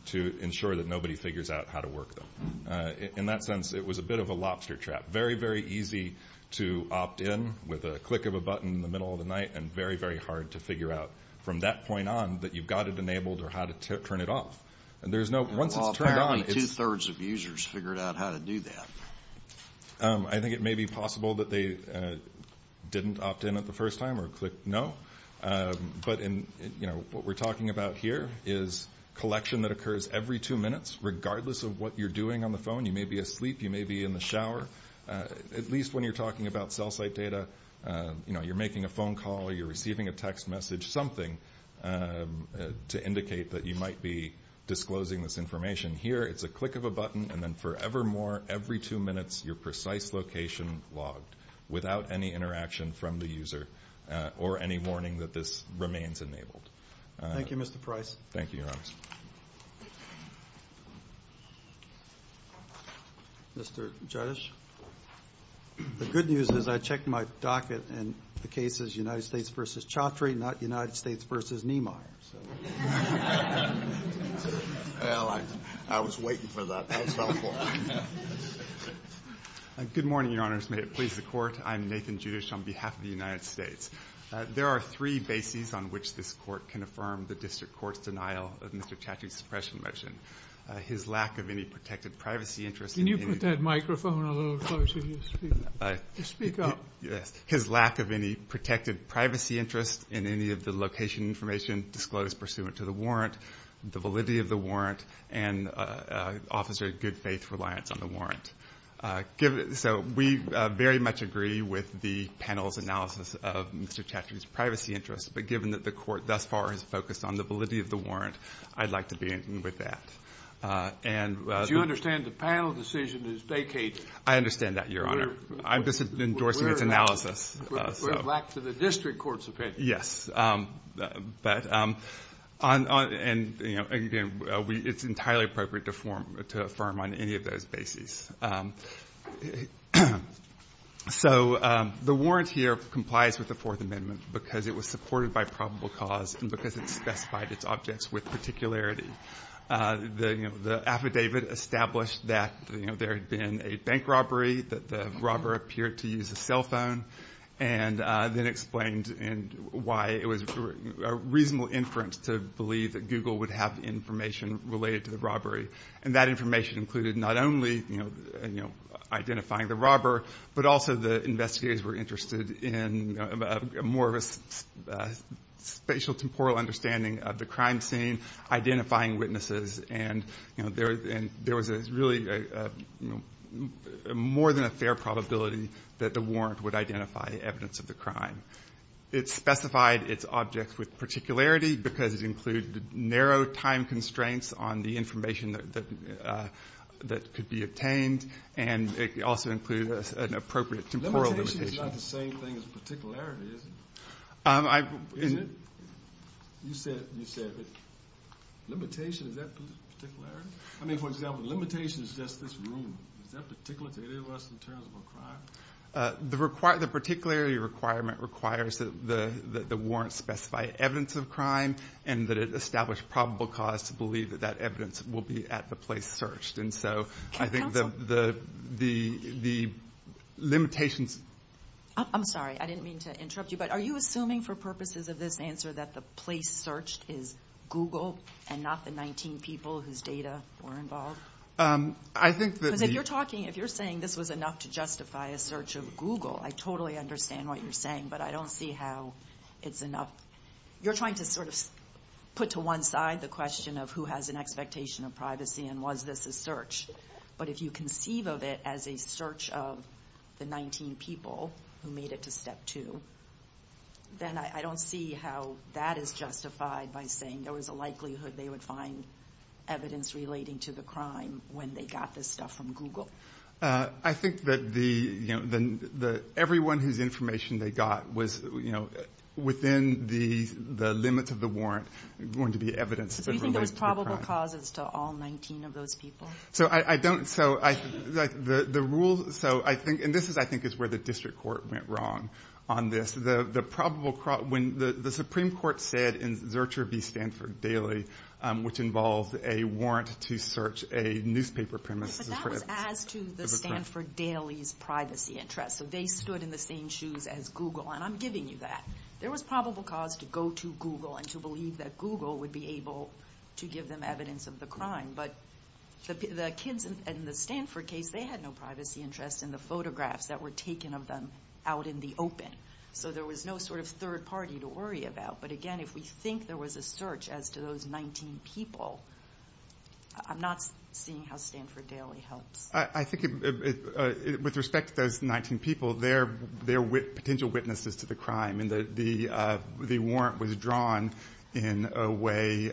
to ensure that nobody figures out how to work them. In that sense, it was a bit of a lobster trap. Very, very easy to opt in with a click of a button in the middle of the night and very, very hard to figure out from that point on that you've got it enabled or how to turn it off. Once it's turned on… Well, apparently two-thirds of users figured out how to do that. I think it may be possible that they didn't opt in at the first time or clicked no, but what we're talking about here is collection that occurs every two minutes regardless of what you're doing on the phone. You may be asleep. You may be in the shower. At least when you're talking about cell site data, you're making a phone call or you're receiving a text message, something to indicate that you might be disclosing this information. Here, it's a click of a button and then forevermore, every two minutes, your precise location logged without any interaction from the user or any warning that this remains enabled. Thank you, Mr. Price. Thank you, Your Honor. Mr. Judge, the good news is I checked my docket and the case is United States v. Chaudhry, not United States v. Neymar. Well, I was waiting for that. Good morning, Your Honor. May it please the Court. I'm Nathan Judish on behalf of the United States. There are three bases on which this Court can affirm the district court's denial of Mr. Chaudhry's suppression motion. His lack of any protected privacy interest… Can you put that microphone a little closer to his feet to speak up? His lack of any protected privacy interest in any of the location information disclosed pursuant to the warrant, the validity of the warrant, and officer's good faith reliance on the warrant. So we very much agree with the panel's analysis of Mr. Chaudhry's privacy interest, but given that the Court thus far has focused on the validity of the warrant, I'd like to be in with that. Do you understand the panel decision is vacated? I understand that, Your Honor. I'm just endorsing its analysis. For the lack of the district court's opinion. Yes. And, again, it's entirely appropriate to affirm on any of those bases. So the warrant here complies with the Fourth Amendment because it was supported by probable cause and because it specified its objects with particularity. The affidavit established that there had been a bank robbery, that the robber appeared to use a cell phone, and then explained why it was a reasonable inference to believe that Google would have information related to the robbery. And that information included not only identifying the robber, but also the investigators were interested in more of a spatial-temporal understanding of the crime scene, identifying witnesses, and there was really more than a fair probability that the warrant would identify evidence of the crime. It specified its objects with particularity because it included narrow time constraints on the information that could be obtained, and it also included an appropriate temporal limitation. Limitation is not the same thing as particularity, is it? You said limitation, is that particularity? I mean, for example, limitation says this room, is that particularity less than terrible crime? The particularity requirement requires that the warrant specify evidence of crime and that it establish probable cause to believe that that evidence will be at the place searched. And so I think the limitations... I'm sorry, I didn't mean to interrupt you, but are you assuming for purposes of this answer that the place searched is Google and not the 19 people whose data were involved? If you're saying this was enough to justify a search of Google, I totally understand what you're saying, but I don't see how it's enough. You're trying to sort of put to one side the question of who has an expectation of privacy and was this a search. But if you conceive of it as a search of the 19 people who made it to step two, then I don't see how that is justified by saying there was a likelihood they would find evidence relating to the crime when they got this stuff from Google. I think that everyone whose information they got was within the limit of the warrant going to be evidence that related to the crime. So there was probable cause to all 19 of those people? And this is I think where the district court went wrong on this. The Supreme Court said in Zurcher v. Stanford Daily, which involved a warrant to search a newspaper premise... But that was as to the Stanford Daily's privacy interest, so they stood in the same shoes as Google, and I'm giving you that. There was probable cause to go to Google and to believe that Google would be able to give them evidence of the crime, but the kids in the Stanford case, they had no privacy interest in the photographs that were taken of them out in the open. So there was no sort of third party to worry about, but again, if we think there was a search as to those 19 people, I'm not seeing how Stanford Daily helped. I think with respect to those 19 people, they're potential witnesses to the crime. And the warrant was drawn in a way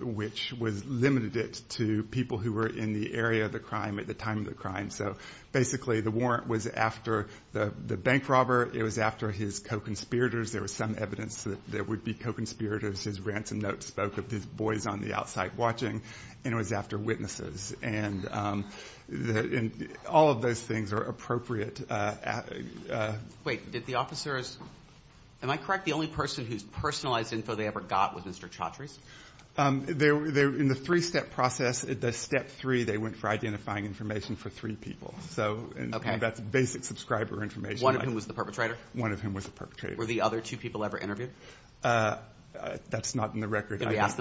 which limited it to people who were in the area of the crime at the time of the crime. So basically the warrant was after the bank robber, it was after his co-conspirators. There was some evidence that there would be co-conspirators. There was his ransom note spoke of these boys on the outside watching, and it was after witnesses. And all of those things are appropriate. Wait, did the officers...am I correct? The only person whose personalized info they ever got was Mr. Chaudhry? In the three-step process, the step three, they went for identifying information for three people. One of whom was the perpetrator? Were the other two people ever interviewed? That's not in the record. You just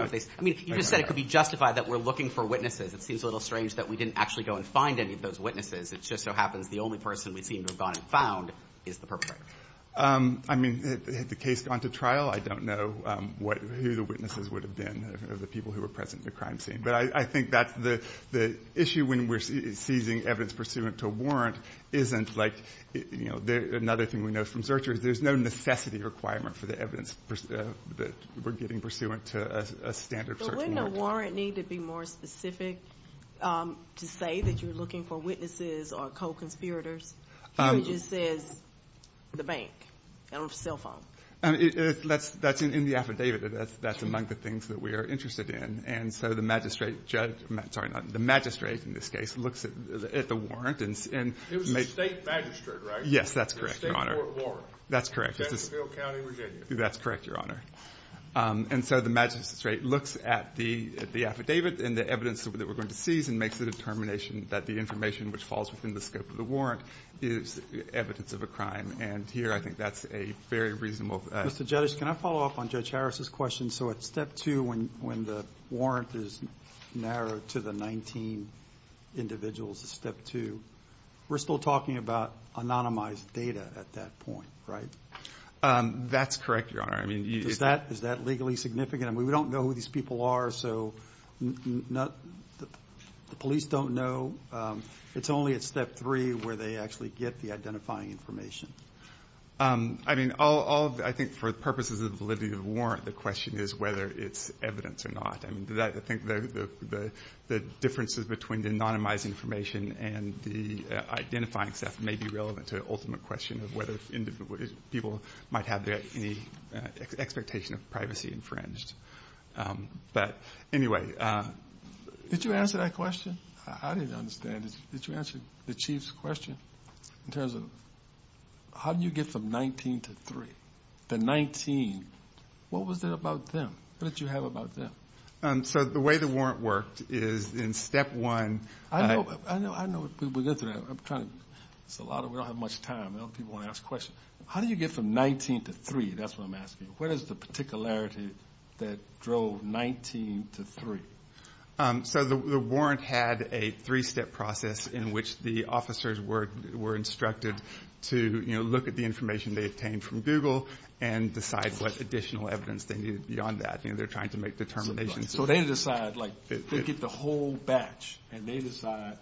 said it could be justified that we're looking for witnesses. It seems a little strange that we didn't actually go and find any of those witnesses. It just so happens the only person we seem to have gone and found is the perpetrator. I mean, had the case gone to trial, I don't know who the witnesses would have been, the people who were present at the crime scene. But I think the issue when we're seizing evidence pursuant to a warrant isn't like... Another thing we know from searchers, there's no necessity requirement for the evidence that we're getting pursuant to a standard search warrant. Wouldn't a warrant need to be more specific to say that you're looking for witnesses or co-conspirators? It just says the bank on the cell phone. That's in the affidavit. That's among the things that we are interested in. And so the magistrate in this case looks at the warrant. It was the state magistrate, right? Yes, that's correct, Your Honor. That's correct, Your Honor. And so the magistrate looks at the affidavit and the evidence that we're going to seize and makes the determination that the information which falls within the scope of the warrant is evidence of a crime. And here I think that's a very reasonable... Mr. Judge, can I follow up on Judge Harris' question? So at Step 2 when the warrant is narrowed to the 19 individuals at Step 2, we're still talking about anonymized data at that point, right? That's correct, Your Honor. Is that legally significant? We don't know who these people are, so the police don't know. It's only at Step 3 where they actually get the identifying information. I mean, I think for purposes of validity of the warrant, the question is whether it's evidence or not. I think the differences between the anonymized information and the identifying stuff may be relevant to the ultimate question of whether people might have any expectation of privacy infringed. But anyway, did you answer that question? I didn't understand it. Did you answer the Chief's question in terms of how do you get from 19 to 3? The 19, what was it about them? What did you have about them? So the way the warrant worked is in Step 1... How do you get from 19 to 3? That's what I'm asking. What is the particularity that drove 19 to 3? So the warrant had a three-step process in which the officers were instructed to look at the information they obtained from Google and decide what additional evidence they needed beyond that. So they get the whole batch and they decide,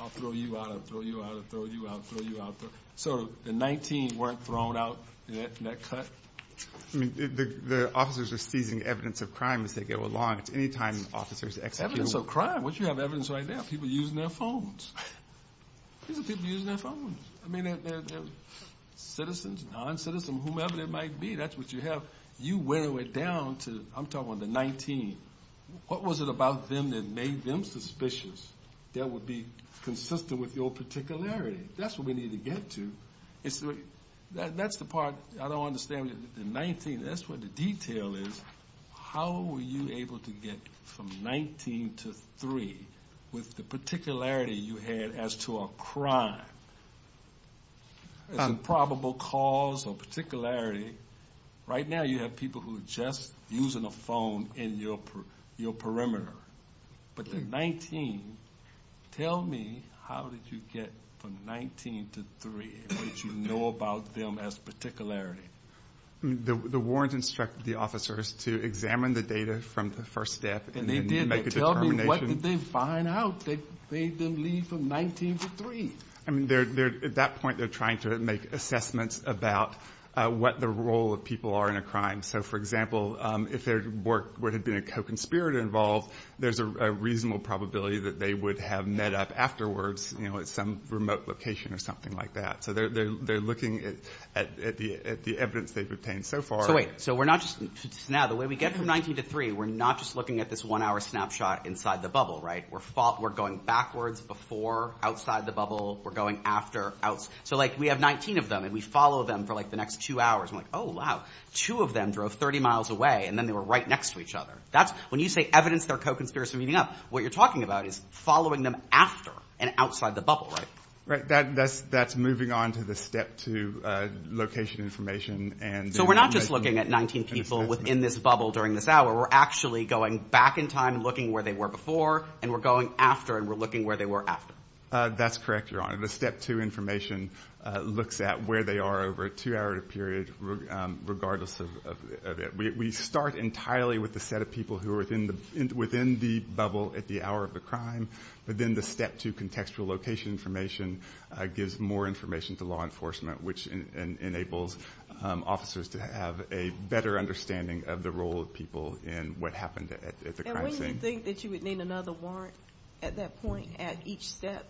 I'll throw you out, I'll throw you out, I'll throw you out, I'll throw you out. So the 19 weren't thrown out in that cut? The officers are seizing evidence of crime as they go along. Evidence of crime? What you have evidence right now? People using their phones. People using their phones. Citizens, non-citizens, whomever they might be. That's what you have. You weigh it down to, I'm talking about the 19. What was it about them that made them suspicious that would be consistent with your particularity? That's what we need to get to. That's the part I don't understand. The 19, that's where the detail is. How were you able to get from 19 to 3 with the particularity you had as to a crime? A probable cause or particularity. Right now you have people who are just using a phone in your perimeter. But the 19, tell me how did you get from 19 to 3? Did you know about them as particularity? The warrants instructed the officers to examine the data from the first death and make a determination. What did they find out that made them leave from 19 to 3? At that point they're trying to make assessments about what the role of people are in a crime. For example, if there would have been a co-conspirator involved, there's a reasonable probability that they would have met up afterwards at some remote location or something like that. They're looking at the evidence they've obtained so far. When we get from 19 to 3, we're not just looking at this one hour snapshot inside the bubble. We're going backwards before, outside the bubble, we're going after. We have 19 of them and we follow them for the next two hours. Two of them drove 30 miles away and then they were right next to each other. When you say evidence they're co-conspirators from meeting up, what you're talking about is following them after and outside the bubble. That's moving on to the step two location information. So we're not just looking at 19 people within this bubble during this hour. We're actually going back in time and looking where they were before and we're going after and we're looking where they were after. That's correct, Your Honor. The step two information looks at where they are over a two-hour period regardless of it. We start entirely with the set of people who are within the bubble at the hour of the crime, but then the step two contextual location information gives more information to law enforcement, which enables officers to have a better understanding of the role of people and what happened at the crime scene. And wouldn't you think that you would need another warrant at that point at each step?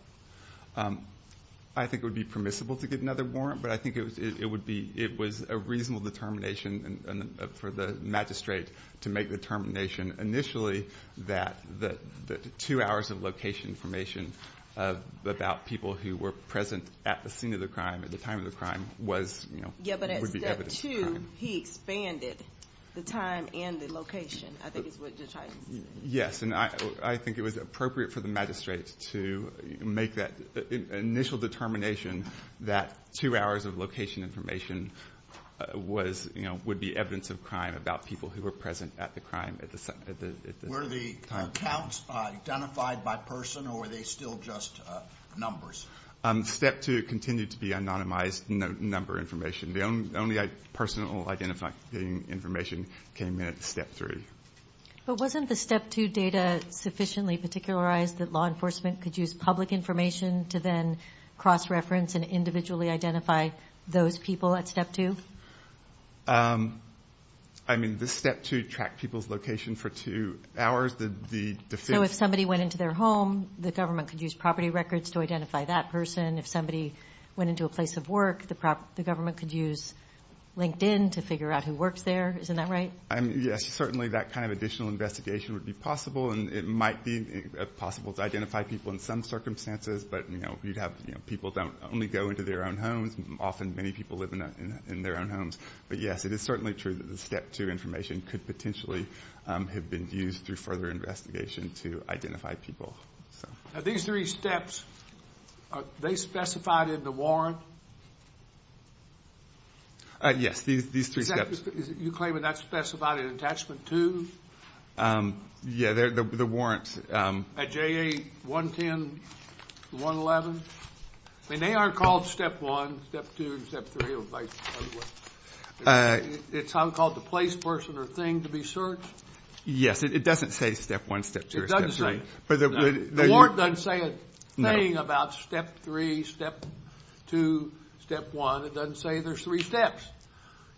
I think it would be permissible to get another warrant, but I think it was a reasonable determination for the magistrate to make the determination initially that the two hours of location information about people who were present at the scene of the crime, at the time of the crime, would be evidence of crime. Yes, and I think it was appropriate for the magistrate to make that initial determination that two hours of location information would be evidence of crime about people who were present at the crime. Were the accounts identified by person or were they still just numbers? Step two continued to be anonymized number information. The only personal identifying information came in at step three. But wasn't the step two data sufficiently particularized that law enforcement could use public information to then cross-reference and individually identify those people at step two? I mean, did step two track people's location for two hours? So if somebody went into their home, the government could use property records to identify that person. If somebody went into a place of work, the government could use LinkedIn to figure out who worked there. Isn't that right? Yes, certainly that kind of additional investigation would be possible, and it might be possible to identify people in some circumstances, but people don't only go into their own homes. Often many people live in their own homes. But yes, it is certainly true that the step two information could potentially have been used through further investigation to identify people. Now these three steps, are they specified in the warrant? Yes, these three steps. You claim they're not specified in attachment two? Yeah, the warrants. At JA 110, 111? And they aren't called step one, step two, and step three? It's not called the place, person, or thing to be searched? Yes, it doesn't say step one, step two, or step three. The warrant doesn't say a thing about step three, step two, step one. It doesn't say there's three steps.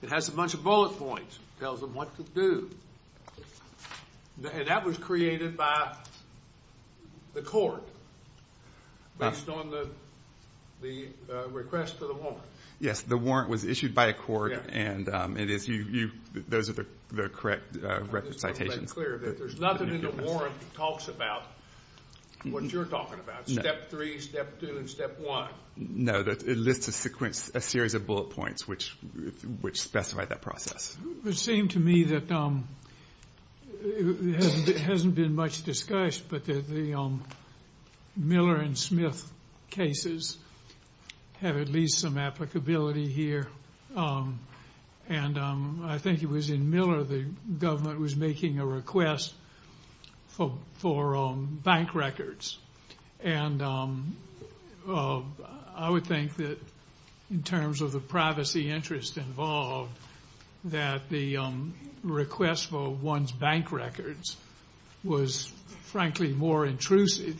It has a bunch of bullet points. It tells them what to do. And that was created by the court based on the request for the warrant? Yes, the warrant was issued by a court, and those are the correct representations. There's nothing in the warrant that talks about what you're talking about, step three, step two, and step one. No, it lists a series of bullet points which specify that process. It seemed to me that it hasn't been much discussed, but the Miller and Smith cases have at least some applicability here. And I think it was in Miller the government was making a request for bank records. And I would think that in terms of the privacy interest involved, that the request for one's bank records was frankly more intrusive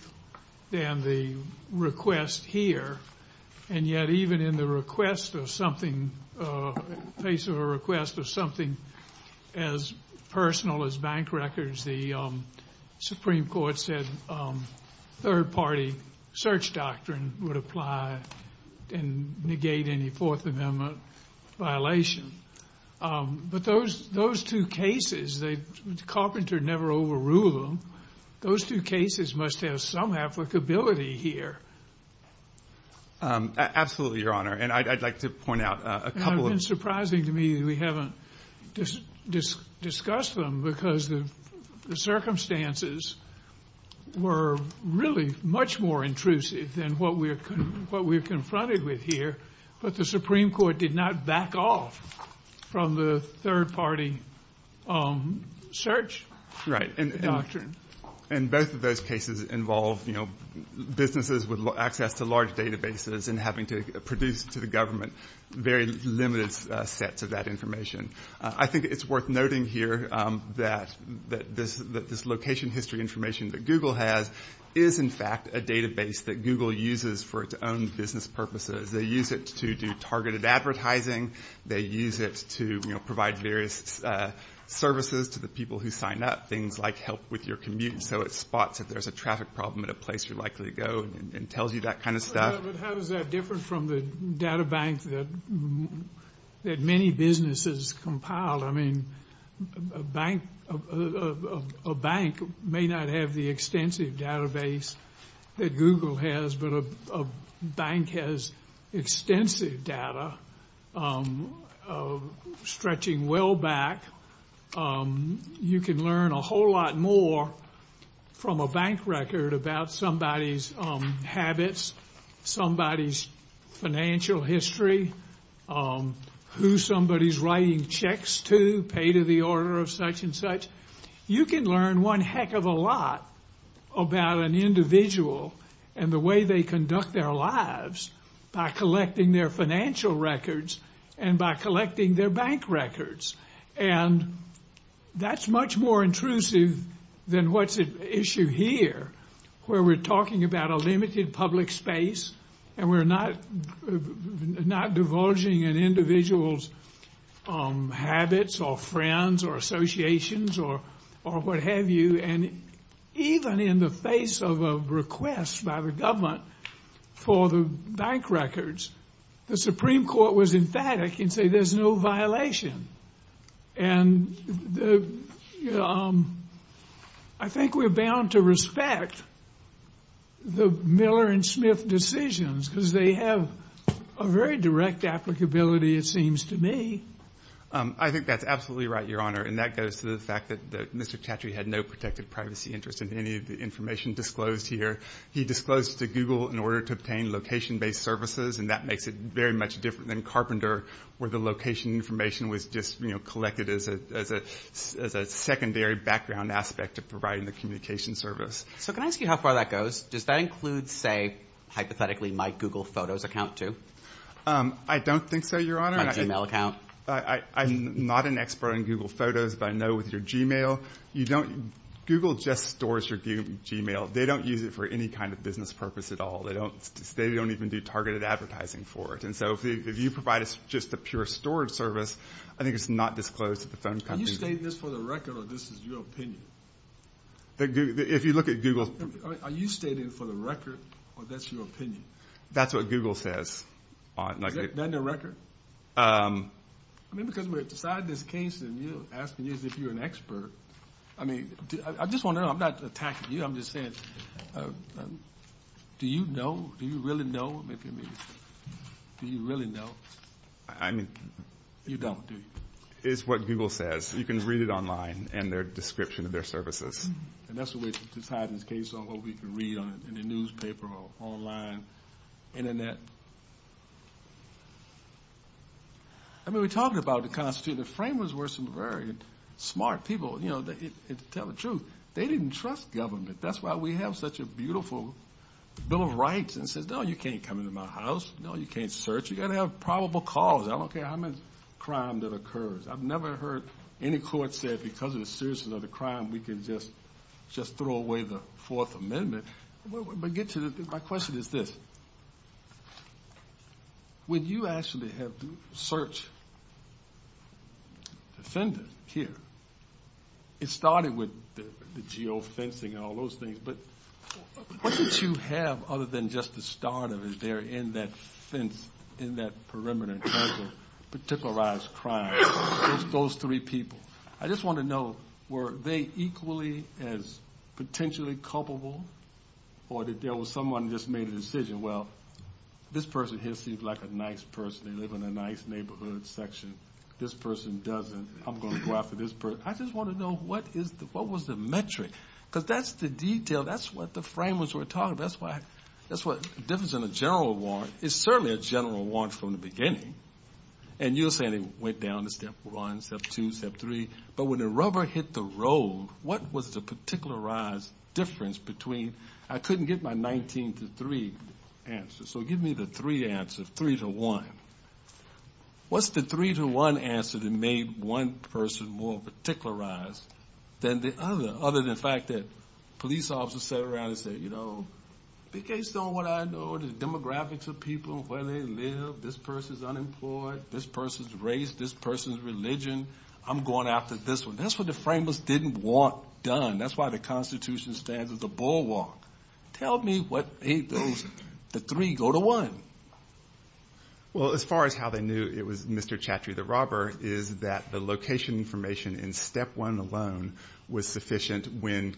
than the request here. And yet even in the request of something, a case of a request of something as personal as bank records, the Supreme Court said third-party search doctrine would apply and negate any Fourth Amendment violation. But those two cases, Carpenter never overruled them. Those two cases must have some applicability here. Absolutely, Your Honor, and I'd like to point out a couple of... The circumstances were really much more intrusive than what we're confronted with here, but the Supreme Court did not back off from the third-party search doctrine. Right, and both of those cases involve, you know, businesses with access to large databases and having to produce to the government very limited sets of that information. I think it's worth noting here that this location history information that Google has is, in fact, a database that Google uses for its own business purposes. They use it to do targeted advertising. They use it to provide various services to the people who sign up, things like help with your commute. So it spots if there's a traffic problem at a place you're likely to go and tells you that kind of stuff. But how does that differ from the databanks that many businesses compile? I mean, a bank may not have the extensive database that Google has, but a bank has extensive data stretching well back. You can learn a whole lot more from a bank record about somebody's habits, somebody's financial history, who somebody's writing checks to, pay to the order of such and such. You can learn one heck of a lot about an individual and the way they conduct their lives by collecting their financial records and by collecting their bank records. And that's much more intrusive than what's at issue here where we're talking about a limited public space and we're not divulging an individual's habits or friends or associations or what have you. And even in the face of a request by the government for the bank records, the Supreme Court was emphatic and said there's no violation. And I think we're bound to respect the Miller and Smith decisions because they have a very direct applicability, it seems to me. I think that's absolutely right, Your Honor, and that goes to the fact that Mr. Tatry had no protected privacy interest in any of the information disclosed here. He disclosed to Google in order to obtain location-based services, and that makes it very much different than Carpenter where the location information was just collected as a secondary background aspect of providing the communication service. So can I ask you how far that goes? Does that include, say, hypothetically, my Google Photos account, too? I don't think so, Your Honor. My Gmail account? I'm not an expert on Google Photos, but I know with your Gmail, Google just stores your Gmail. They don't use it for any kind of business purpose at all. They don't even do targeted advertising for it. And so if you provide just a pure storage service, I think it's not disclosed to the phone companies. Are you stating this for the record, or this is your opinion? If you look at Google – Are you stating it for the record, or that's your opinion? That's what Google says. Then the record? I mean, because we're deciding this case, and you're asking if you're an expert. I mean, I just want to know. I'm not attacking you. I'm just saying, do you know? Do you really know? Do you really know? You don't, do you? It's what Google says. You can read it online, and their description of their services. And that's the way to tie this case on what we can read in the newspaper or online, Internet. I mean, we talked about the Constitution. The framers were some very smart people. You know, to tell the truth, they didn't trust government. That's why we have such a beautiful Bill of Rights. It says, no, you can't come into my house. No, you can't search. You've got to have probable cause. I don't care how much crime that occurs. I've never heard any court say, because of the seriousness of the crime, we can just throw away the Fourth Amendment. My question is this. When you actually have searched defendants here, it started with the geo-fencing and all those things. But what did you have other than just the start of it there in that fence, in that perimeter, trying to particularize crime against those three people? I just want to know, were they equally as potentially culpable, or did someone just make a decision, well, this person here seems like a nice person. They live in a nice neighborhood section. This person doesn't. I'm going to go after this person. I just want to know, what was the metric? Because that's the detail. That's what the framers were talking about. That's why there isn't a general warrant. There's certainly a general warrant from the beginning. And you were saying it went down to Step 1, Step 2, Step 3. But when the rubber hit the road, what was the particularized difference between – I couldn't get my 19 to 3 answers, so give me the 3 answers, 3 to 1. What's the 3 to 1 answer that made one person more particularized than the other, other than the fact that police officers sat around and said, you know, based on what I know, the demographics of people, where they live, this person's unemployed, this person's race, this person's religion, I'm going after this one. That's what the framers didn't want done. That's why the Constitution stands as a bulwark. Tell me what the 3 go to 1. Well, as far as how they knew it was Mr. Chatterjee, the robber, is that the location information in Step 1 alone was sufficient when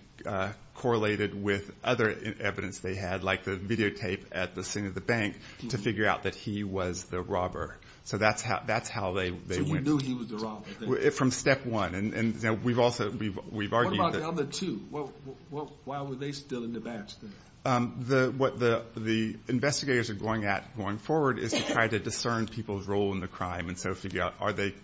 correlated with other evidence they had, like the videotape at the scene of the bank, to figure out that he was the robber. So that's how they went. So you knew he was the robber? From Step 1. What about the other two? Why were they still in the vast? What the investigators are going at going forward is to try to discern people's role in the crime and so figure out, are they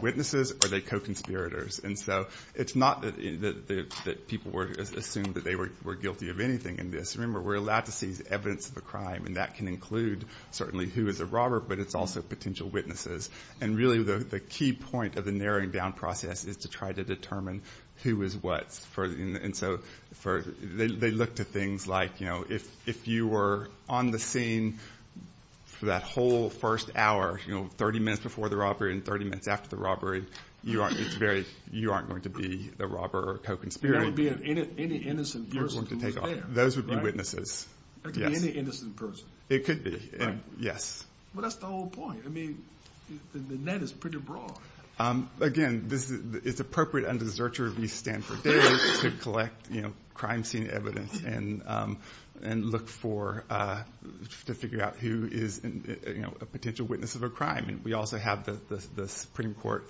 witnesses, are they co-conspirators? And so it's not that people assumed that they were guilty of anything in this. Remember, we're allowed to see the evidence of the crime, and that can include certainly who is the robber, but it's also potential witnesses. And really the key point of the narrowing down process is to try to determine who is what. And so they looked at things like if you were on the scene for that whole first hour, 30 minutes before the robbery and 30 minutes after the robbery, you aren't going to be the robber or co-conspirator. You're not going to be any innocent person. Those would be witnesses. Any innocent person. It could be, yes. But that's the whole point. I mean, the net is pretty broad. Again, it's appropriate under the search and review standards to collect crime scene evidence and look for to figure out who is a potential witness of a crime. We also have the Supreme Court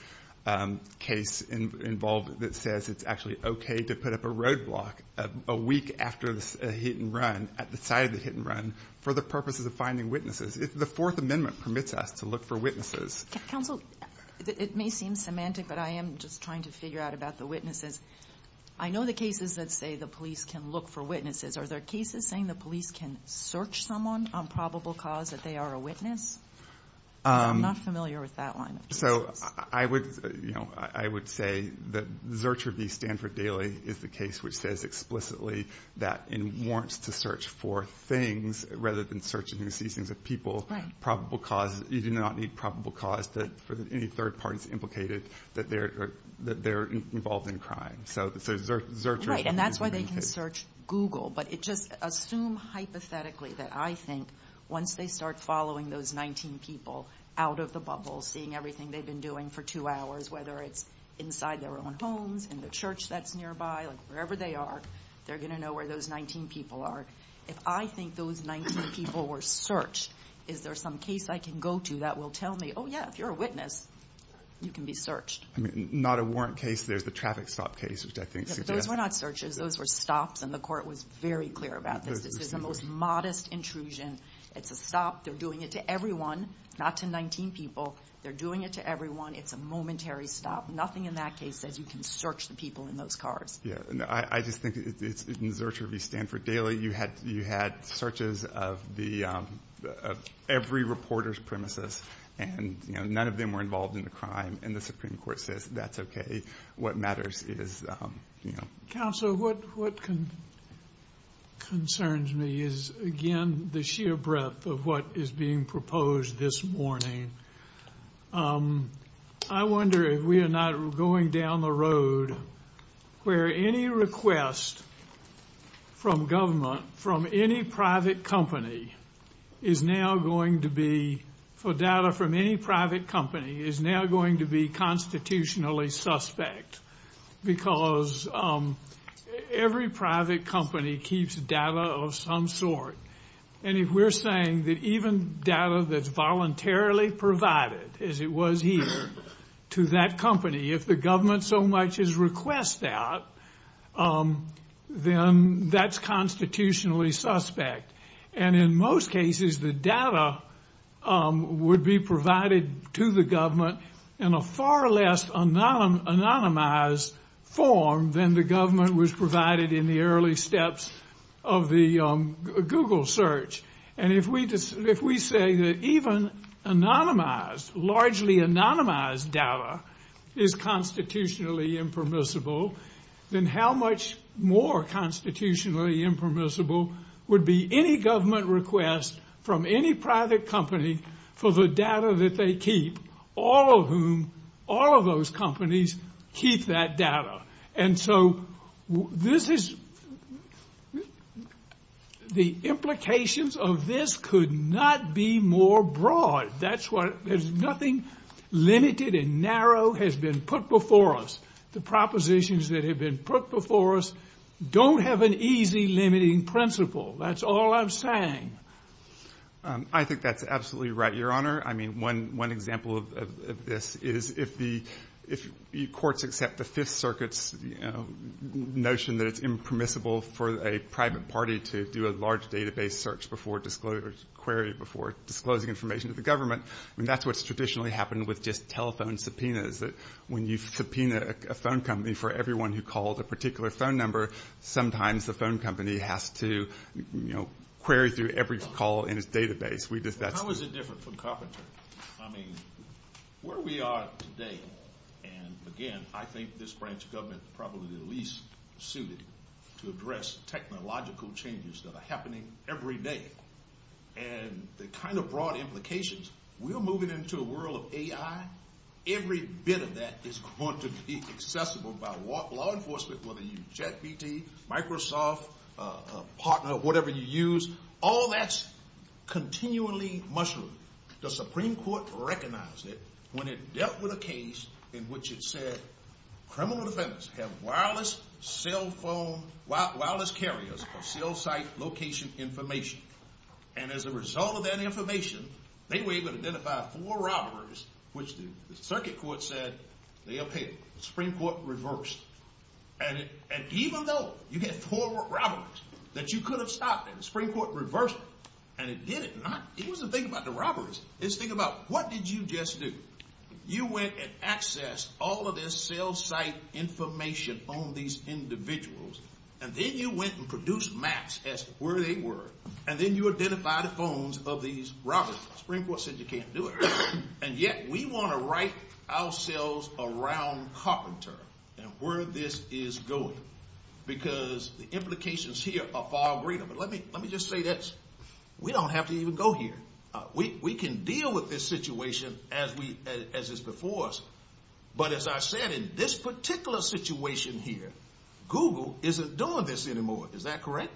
case involved that says it's actually okay to put up a roadblock a week after a hit-and-run, at the site of the hit-and-run, for the purpose of finding witnesses. The Fourth Amendment permits us to look for witnesses. Counsel, it may seem semantic, but I am just trying to figure out about the witnesses. I know the cases that say the police can look for witnesses. Are there cases saying the police can search someone on probable cause that they are a witness? I'm not familiar with that one. So I would say that Zurcher v. Stanford Daily is the case which says explicitly that it warrants to search for things rather than searching to see things of people. You do not need probable cause for any third parties implicated that they're involved in crime. Right, and that's why they can search Google. But just assume hypothetically that I think once they start following those 19 people out of the bubble, seeing everything they've been doing for two hours, whether it's inside their own homes, in the church that's nearby, wherever they are, they're going to know where those 19 people are. If I think those 19 people were searched, is there some case I can go to that will tell me, oh, yeah, if you're a witness, you can be searched? Not a warrant case, there's the traffic stop case. Those were not searches, those were stops, and the court was very clear about this. It's the most modest intrusion. It's a stop. They're doing it to everyone, not to 19 people. They're doing it to everyone. It's a momentary stop. Nothing in that case says you can search the people in those cars. Yeah, I just think in Zurcher v. Stanford Daily, you had searches of every reporter's premises, and none of them were involved in the crime, and the Supreme Court says that's okay. What matters is, you know. Counsel, what concerns me is, again, the sheer breadth of what is being proposed this morning. I wonder if we are not going down the road where any request from government, from any private company is now going to be, for data from any private company, is now going to be constitutionally suspect, because every private company keeps data of some sort. And if we're saying that even data that's voluntarily provided, as it was here, to that company, if the government so much as requests that, then that's constitutionally suspect. And in most cases, the data would be provided to the government in a far less anonymized form than the government was provided in the early steps of the Google search. And if we say that even anonymized, largely anonymized data is constitutionally impermissible, then how much more constitutionally impermissible would be any government request from any private company for the data that they keep, all of whom, all of those companies keep that data. And so this is, the implications of this could not be more broad. That's why there's nothing limited and narrow has been put before us. The propositions that have been put before us don't have an easy limiting principle. That's all I'm saying. I think that's absolutely right, Your Honor. I mean, one example of this is if the courts accept the Fifth Circuit's notion that it's impermissible for a private party to do a large database search before disclosing information to the government, and that's what's traditionally happened with just telephone subpoenas. When you subpoena a phone company for everyone who called a particular phone number, sometimes the phone company has to, you know, query through every call in its database. How is it different from carpentry? I mean, where we are today, and again, I think this branch of government is probably the least suited to address technological changes that are happening every day. And the kind of broad implications, we're moving into a world of AI. Every bit of that is going to be accessible by law enforcement, whether you use JetPG, Microsoft, Partner, whatever you use, all that's continually mushroomed. The Supreme Court recognized it when it dealt with a case in which it said criminal defendants have wireless carriers for cell site location information, and as a result of that information, they were able to identify four robbers, which the Circuit Court said they appeared. The Supreme Court reversed, and even though you had four robbers that you could have stopped, the Supreme Court reversed it, and it did it. Now, here's the thing about the robberies. Let's think about what did you just do. You went and accessed all of this cell site information on these individuals, and then you went and produced maps as to where they were, and then you identified the phones of these robbers. The Supreme Court said you can't do it, and yet we want to right ourselves around Carpenter and where this is going because the implications here are far greater. But let me just say this. We don't have to even go here. We can deal with this situation as it's before us, but as I said, in this particular situation here, Google isn't doing this anymore. Is that correct?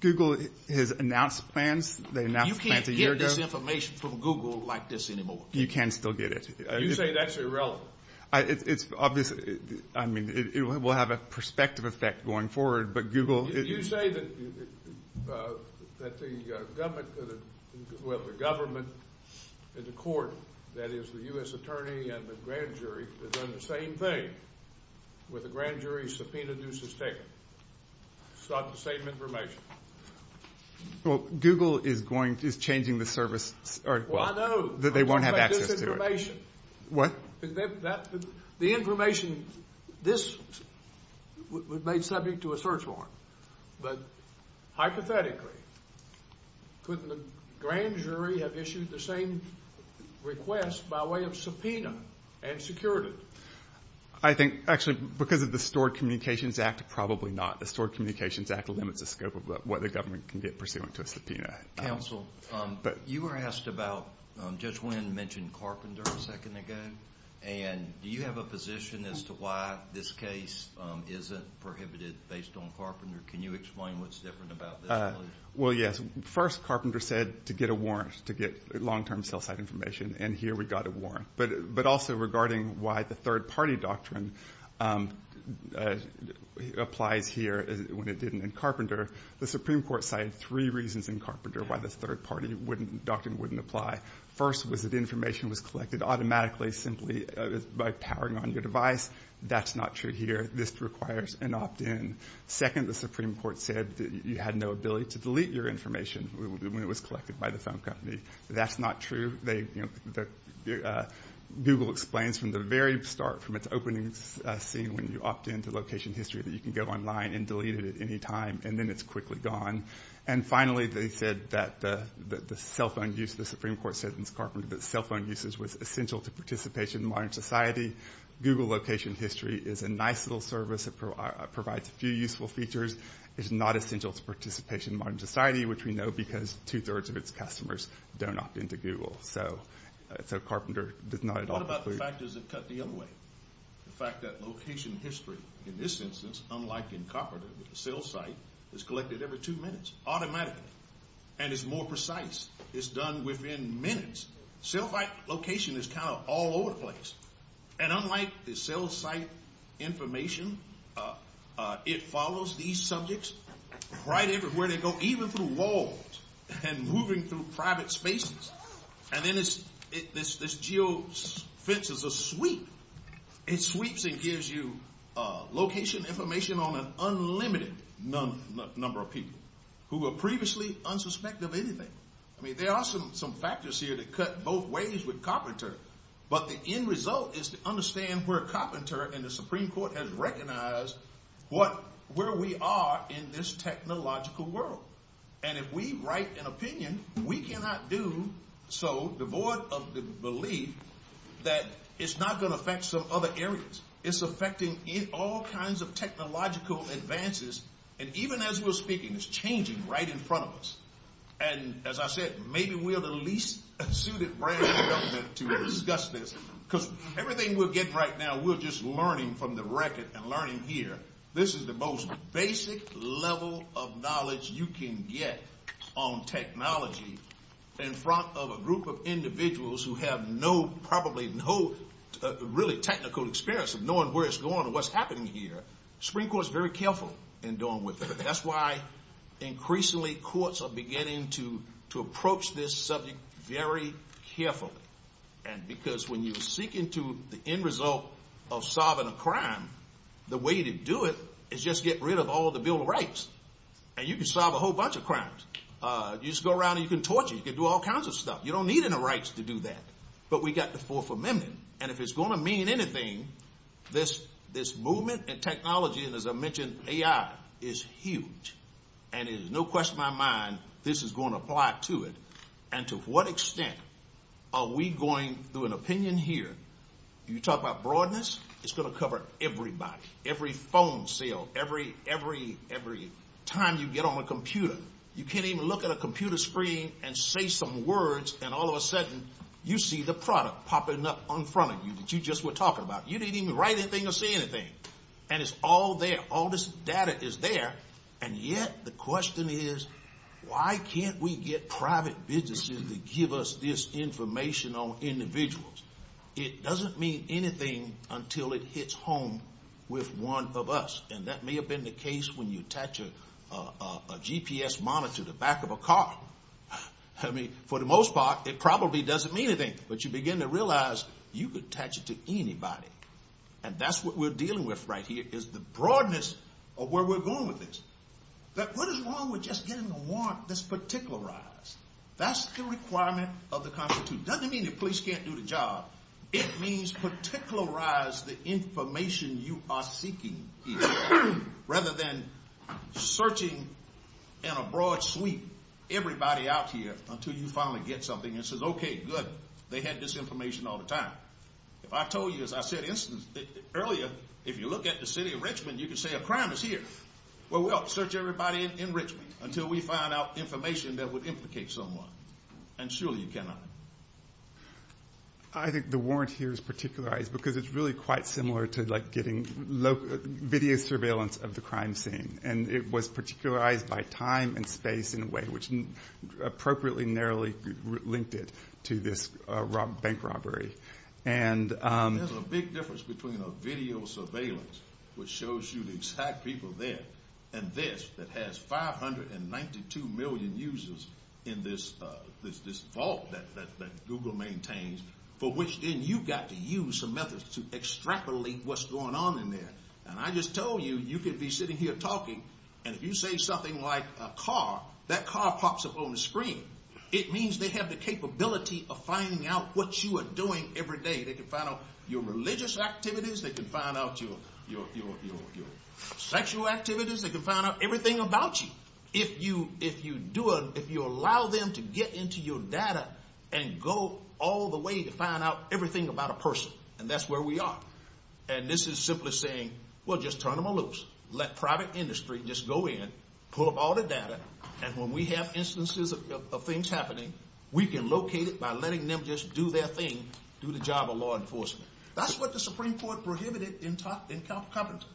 Google has announced plans. They announced plans a year ago. You can't get this information from Google like this anymore. You can still get it. You say that's irrelevant. It's obvious. I mean, it will have a perspective effect going forward, but Google is— Did you say that the government, the court, that is, the U.S. attorney and the grand jury, have done the same thing where the grand jury subpoenaed the suspects, sought the same information? Well, Google is going—is changing the service. Well, I know. They won't have access to it. What? The information, this was made subject to a search warrant, but hypothetically, couldn't the grand jury have issued the same request by way of subpoena and security? I think, actually, because of the Stored Communications Act, probably not. The Stored Communications Act limits the scope of what the government can get pursuant to a subpoena. Counsel, you were asked about, Judge Wynn mentioned Carpenter a second ago, and do you have a position as to why this case isn't prohibited based on Carpenter? Can you explain what's different about this? Well, yes. First, Carpenter said to get a warrant, to get long-term sales-side information, and here we got a warrant. But also, regarding why the third-party doctrine applied here when it didn't in Carpenter, the Supreme Court cited three reasons in Carpenter why the third-party doctrine wouldn't apply. First was that the information was collected automatically, simply by powering on your device. That's not true here. This requires an opt-in. Second, the Supreme Court said that you had no ability to delete your information when it was collected by the phone company. That's not true. Google explains from the very start, from its opening scene, when you opt-in to location history that you can go online and delete it at any time, and then it's quickly gone. And finally, they said that the cell phone use, the Supreme Court said in Carpenter, that cell phone use was essential to participation in modern society. Google location history is a nice little service. It provides a few useful features. It's not essential to participation in modern society, which we know because two-thirds of its customers don't opt-in to Google. So Carpenter did not adopt this way. What about the factors that cut the other way? The fact that location history, in this instance, unlike in Carpenter, with the cell site, is collected every two minutes automatically, and is more precise. It's done within minutes. Cell site location is kind of all over the place. And unlike the cell site information, it follows these subjects right everywhere they go, even through walls and moving through private spaces. And then this geofence is a sweep. It sweeps and gives you location information on an unlimited number of people who were previously unsuspecting of anything. I mean, there are some factors here that cut both ways with Carpenter. But the end result is to understand where Carpenter and the Supreme Court have recognized where we are in this technological world. And if we write an opinion, we cannot do so devoid of the belief that it's not going to affect some other areas. It's affecting all kinds of technological advances. And even as we're speaking, it's changing right in front of us. And as I said, maybe we're the least suited brand to discuss this, because everything we're getting right now, we're just learning from the record and learning here. This is the most basic level of knowledge you can get on technology in front of a group of individuals who have probably no really technical experience of knowing where it's going or what's happening here. The Supreme Court is very careful in dealing with it. That's why increasingly courts are beginning to approach this subject very carefully. And because when you seek into the end result of solving a crime, the way to do it is just get rid of all the Bill of Rights. And you can solve a whole bunch of crimes. You just go around and you can torture. You can do all kinds of stuff. You don't need any rights to do that. But we've got the Fourth Amendment. And if it's going to mean anything, this movement in technology, and as I mentioned, AI, is huge. And it is no question in my mind this is going to apply to it. And to what extent are we going through an opinion here? You talk about broadness, it's going to cover everybody, every phone sale, every time you get on a computer. You can't even look at a computer screen and say some words, and all of a sudden you see the product popping up in front of you that you just were talking about. You didn't even write anything or say anything. And it's all there. All this data is there. And yet the question is, why can't we get private businesses to give us this information on individuals? It doesn't mean anything until it hits home with one of us. And that may have been the case when you attach a GPS monitor to the back of a car. I mean, for the most part, it probably doesn't mean anything. But you begin to realize you could attach it to anybody. And that's what we're dealing with right here, is the broadness of where we're going with this. But what is wrong with just getting a warrant that's particularized? That's the requirement of the Constitution. It doesn't mean the police can't do the job. It means particularize the information you are seeking, rather than searching in a broad sweep everybody out here until you finally get something that says, okay, good, they had this information all the time. I told you, as I said earlier, if you look at the city of Richmond, you can say a crime is here. Well, we'll search everybody in Richmond until we find out information that would implicate someone. And surely you cannot. I think the warrant here is particularized because it's really quite similar to getting video surveillance of the crime scene. And it was particularized by time and space, in a way, which appropriately narrowly linked it to this bank robbery. There's a big difference between a video surveillance, which shows you the exact people there, and this that has 592 million users in this vault that Google maintains, for which then you've got to use some methods to extrapolate what's going on in there. And I just told you, you could be sitting here talking, and if you say something like a car, that car pops up on the screen. It means they have the capability of finding out what you are doing every day. They can find out your religious activities. They can find out your sexual activities. They can find out everything about you if you allow them to get into your data and go all the way to find out everything about a person. And that's where we are. And this is simply saying, well, just turn them loose. Let private industry just go in, pull up all the data, and when we have instances of things happening, we can locate it by letting them just do their thing, do the job of law enforcement. That's what the Supreme Court prohibited in Carpenter.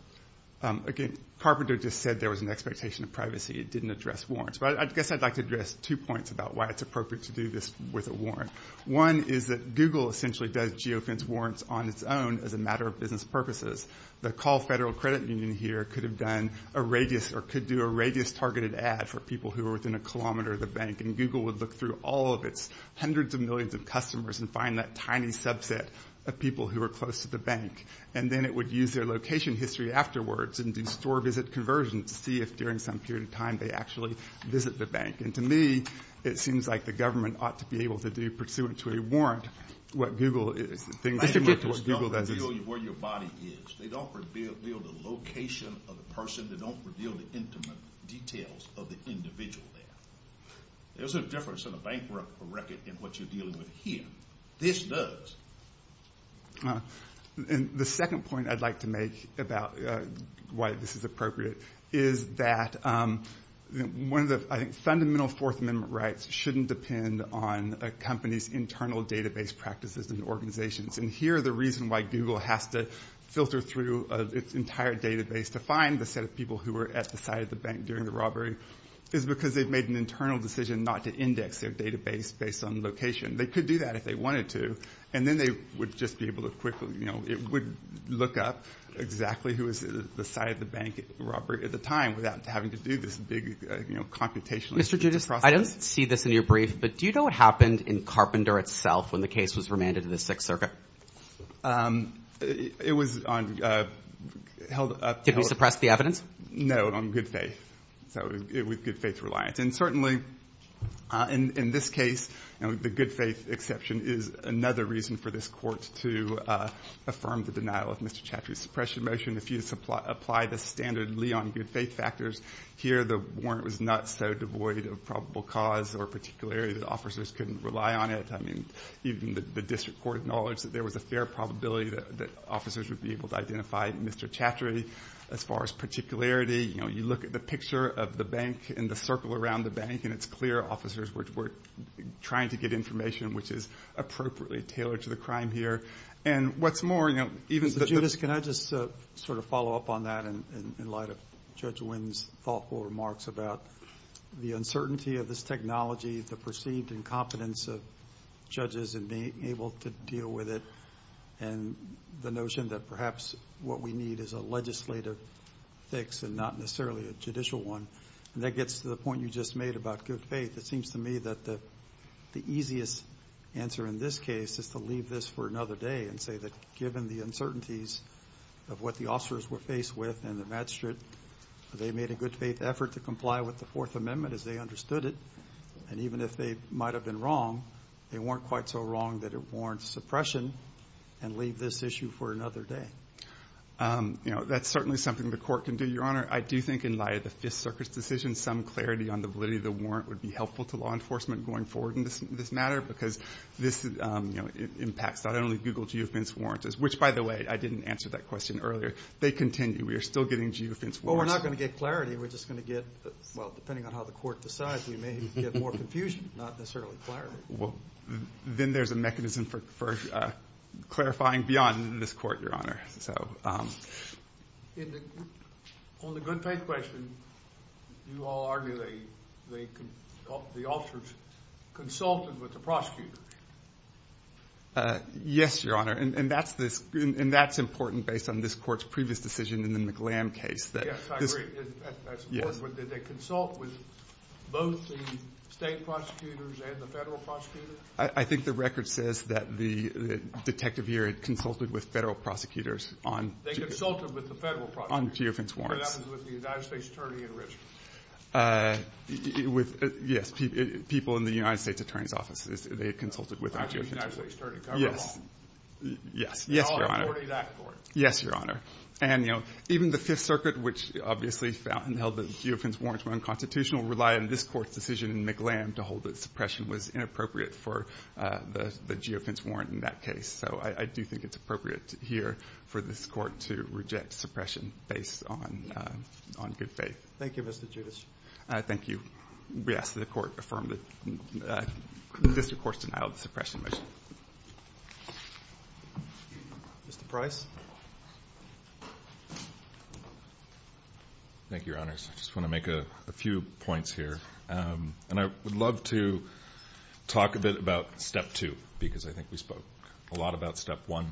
Again, Carpenter just said there was an expectation of privacy. It didn't address warrants. But I guess I'd like to address two points about why it's appropriate to do this with a warrant. One is that Google essentially does geofence warrants on its own as a matter of business purposes. The Call Federal Credit Union here could have done a radius or could do a radius-targeted ad for people who are within a kilometer of the bank. And Google would look through all of its hundreds of millions of customers and find that tiny subset of people who are close to the bank. And then it would use their location history afterwards and do store visit conversions to see if during some period of time they actually visit the bank. And to me, it seems like the government ought to be able to do, pursuant to a warrant, what Google is. They don't reveal where your body is. They don't reveal the location of the person. They don't reveal the intimate details of the individual there. There's a difference in a bank record and what you're dealing with here. This does. And the second point I'd like to make about why this is appropriate is that one of the fundamental Fourth Amendment rights shouldn't depend on a company's internal database practices and organizations. And here, the reason why Google has to filter through its entire database to find the set of people who were at the site of the bank during the robbery is because they've made an internal decision not to index their database based on location. They could do that if they wanted to. And then they would just be able to quickly look up exactly who was at the site of the bank robbery at the time without having to do this big computationally strategic process. I don't see this in your brief, but do you know what happened in Carpenter itself when the case was remanded in the Sixth Circuit? It was held up... Didn't it suppress the evidence? No, on good faith. So it was good faith reliant. And certainly, in this case, the good faith exception is another reason for this court to affirm the denial of Mr. Chaffee's suppression motion. If you apply the standard Lee on good faith factors, here the warrant was not so devoid of probable cause or a particular area that officers couldn't rely on it. I mean, even the district court acknowledged that there was a fair probability that officers would be able to identify Mr. Chaffee. As far as particularity, you know, you look at the picture of the bank and the circle around the bank, and it's clear officers were trying to get information which is appropriately tailored to the crime here. And what's more, you know, even... Judith, can I just sort of follow up on that in light of Judge Wynn's thoughtful remarks about the uncertainty of this technology, the perceived incompetence of judges in being able to deal with it, and the notion that perhaps what we need is a legislative fix and not necessarily a judicial one. And that gets to the point you just made about good faith. It seems to me that the easiest answer in this case is to leave this for another day and say that given the uncertainties of what the officers were faced with and the magistrate, they made a good faith effort to comply with the Fourth Amendment as they understood it. And even if they might have been wrong, they weren't quite so wrong that it warrants suppression and leave this issue for another day. You know, that's certainly something the court can do, Your Honor. I do think in light of this circuit's decision, some clarity on the validity of the warrant would be helpful to law enforcement going forward in this matter because this impacts not only Google geofence warrants, which, by the way, I didn't answer that question earlier. They continue. We are still getting geofence warrants. Well, we're not going to get clarity. We're just going to get, well, depending on how the court decides, we may get more confusion, not necessarily clarity. Then there's a mechanism for clarifying beyond this court, Your Honor. On the good faith question, you all argue the officers consulted with the prosecutors. Yes, Your Honor, and that's important based on this court's previous decision in the McGlann case. Yes, I agree. But did they consult with both the state prosecutors and the federal prosecutors? I think the record says that the detective here had consulted with federal prosecutors on geofence warrants. They consulted with the federal prosecutors. So that was with the United States Attorney in Richmond. Yes, people in the United States Attorney's Office, they had consulted with them. The United States Attorney covered all. Yes, Your Honor. Yes, Your Honor. And, you know, even the Fifth Circuit, which obviously found and held that geofence warrants were unconstitutional, relied on this court's decision in McGlann to hold that suppression was inappropriate for the geofence warrant in that case. So I do think it's appropriate here for this court to reject suppression based on good faith. Thank you, Mr. Judas. Thank you. Yes, the court affirmed that this, of course, Mr. Price. Thank you, Your Honors. I just want to make a few points here. And I would love to talk a bit about Step 2, because I think we spoke a lot about Step 1.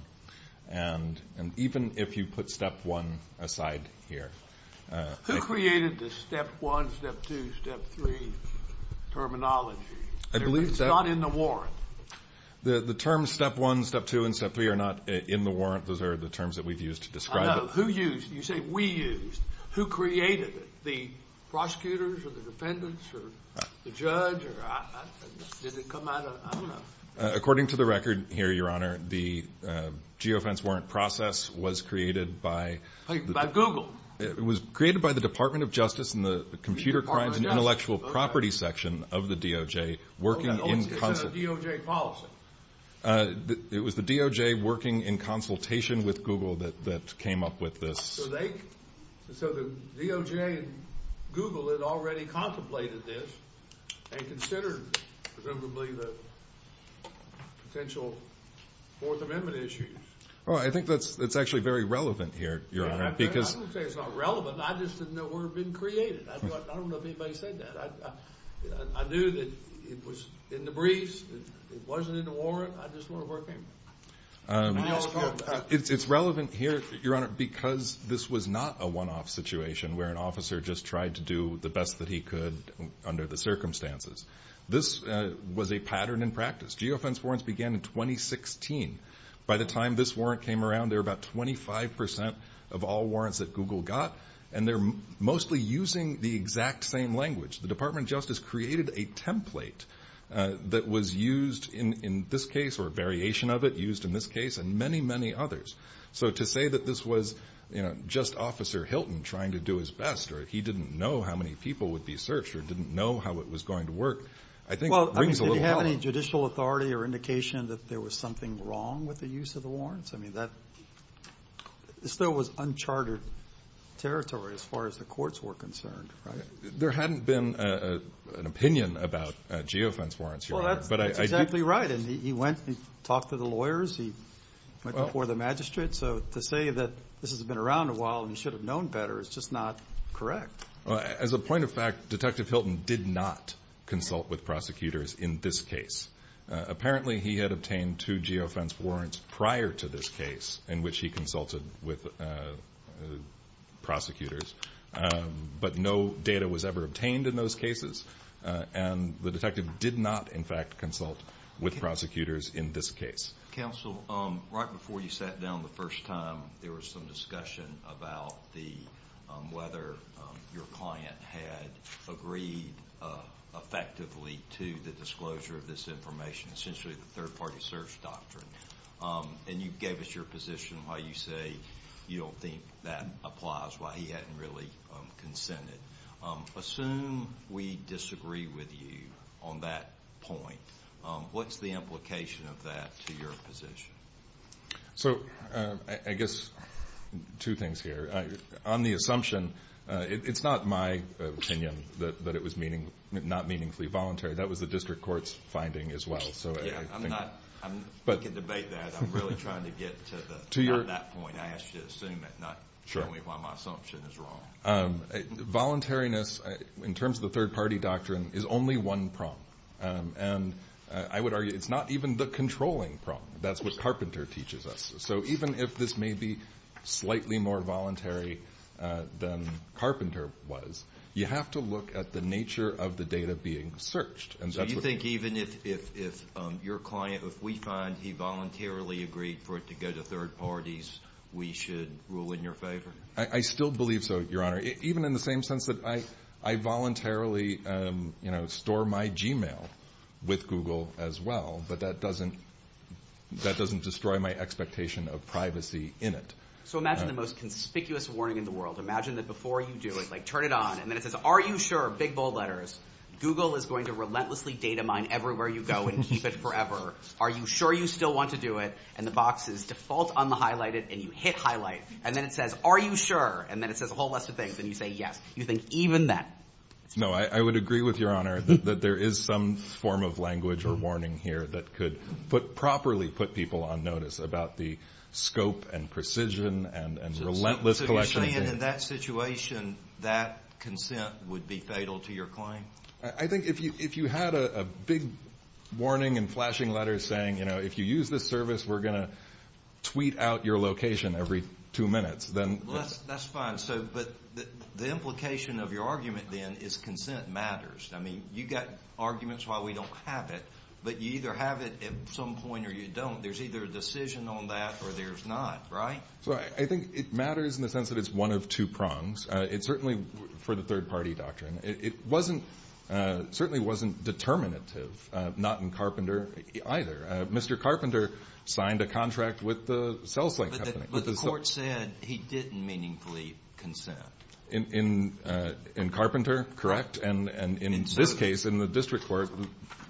And even if you put Step 1 aside here... Who created the Step 1, Step 2, Step 3 terminology? It's not in the warrant. The terms Step 1, Step 2, and Step 3 are not in the warrant. Those are the terms that we've used to describe it. Who used them? You say we used them. Who created it? The prosecutors or the defendants or the judge? Did it come out of... I don't know. According to the record here, Your Honor, the geofence warrant process was created by... By Google. It was created by the Department of Justice and the Computer Crimes and Intellectual Property section of the DOJ working in consultation... It was the DOJ working in consultation with Google that came up with this. So the DOJ and Google had already contemplated this and considered presumably the potential Fourth Amendment issue. I think that's actually very relevant here, Your Honor. I'm not going to say it's not relevant. I just didn't know it would have been created. I don't know if anybody said that. I knew that it was in the briefs. It wasn't in the warrant. I just wanted to work on it. It's relevant here, Your Honor, because this was not a one-off situation where an officer just tried to do the best that he could under the circumstances. This was a pattern in practice. Geofence warrants began in 2016. By the time this warrant came around, there were about 25% of all warrants that Google got, and they're mostly using the exact same language. The Department of Justice created a template that was used in this case or a variation of it used in this case and many, many others. So to say that this was just Officer Hilton trying to do his best or he didn't know how many people would be searched or didn't know how it was going to work, I think brings a little problem. Well, did he have any judicial authority or indication that there was something wrong with the use of the warrants? I mean, that still was uncharted territory as far as the courts were concerned. There hadn't been an opinion about geofence warrants, Your Honor. Well, that's exactly right. He went and talked to the lawyers. He went before the magistrate. So to say that this has been around a while and he should have known better is just not correct. As a point of fact, Detective Hilton did not consult with prosecutors in this case. Apparently, he had obtained two geofence warrants prior to this case in which he consulted with prosecutors. But no data was ever obtained in those cases. And the detective did not, in fact, consult with prosecutors in this case. Counsel, right before you sat down the first time, there was some discussion about whether your client had agreed effectively to the disclosure of this information, essentially the third-party search doctrine. And you gave us your position why you say you don't think that applies, why he hadn't really consented. Assume we disagree with you on that point. What's the implication of that to your position? So I guess two things here. On the assumption, it's not my opinion that it was not meaningfully voluntary. That was the district court's finding as well. I'm not going to debate that. I'm really trying to get to that point. I asked you to assume it, not tell me why my assumption is wrong. Voluntariness, in terms of the third-party doctrine, is only one problem. And I would argue it's not even the controlling problem. That's what Carpenter teaches us. So even if this may be slightly more voluntary than Carpenter was, you have to look at the nature of the data being searched. So you think even if your client, if we find he voluntarily agreed for it to go to third parties, we should rule in your favor? I still believe so, Your Honor, even in the same sense that I voluntarily store my Gmail with Google as well, but that doesn't destroy my expectation of privacy in it. So imagine the most conspicuous warning in the world. Imagine that before you do it, like turn it on, and then it says, are you sure, big bold letters, Google is going to relentlessly data mine everywhere you go and keep it forever. Are you sure you still want to do it? And the box is default on the highlighted, and you hit highlight. And then it says, are you sure? And then it says a whole bunch of things, and you say yes. You think even that? No, I would agree with you, Your Honor, that there is some form of language or warning here that could properly put people on notice about the scope and precision and relentless collection. So you're saying in that situation that consent would be fatal to your claim? I think if you had a big warning and flashing letter saying, you know, if you use this service, we're going to tweet out your location every two minutes, then yes. That's fine. But the implication of your argument then is consent matters. I mean, you've got arguments why we don't have it, but you either have it at some point or you don't. There's either a decision on that or there's not, right? So I think it matters in the sense that it's one of two prongs. It's certainly for the third-party doctrine. It certainly wasn't determinative, not in Carpenter either. Mr. Carpenter signed a contract with the cell phone company. But the court said he didn't meaningfully consent. In Carpenter, correct. And in this case, in the district court,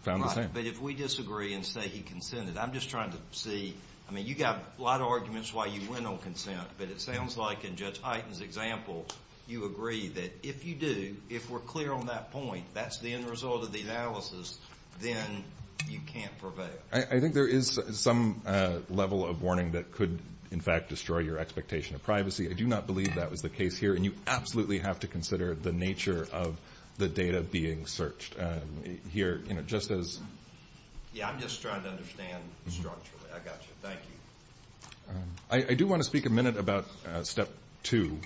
found the same. But if we disagree and say he consented, I'm just trying to see. I mean, you've got a lot of arguments why you went on consent, but it sounds like in Judge Hyten's example you agree that if you do, if we're clear on that point, that's the end result of the analysis, then you can't prevail. I think there is some level of warning that could, in fact, destroy your expectation of privacy. I do not believe that was the case here. And you absolutely have to consider the nature of the data being searched here, just as— Yeah, I'm just trying to understand structurally. I got you. Thank you. I do want to speak a minute about Step 2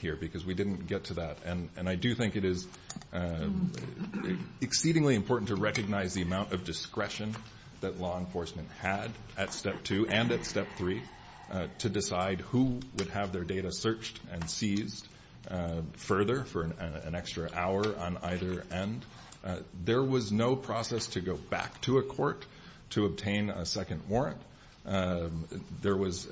here because we didn't get to that. And I do think it is exceedingly important to recognize the amount of discretion that law enforcement had at Step 2 and at Step 3 to decide who would have their data searched and seized further for an extra hour on either end. There was no process to go back to a court to obtain a second warrant. There was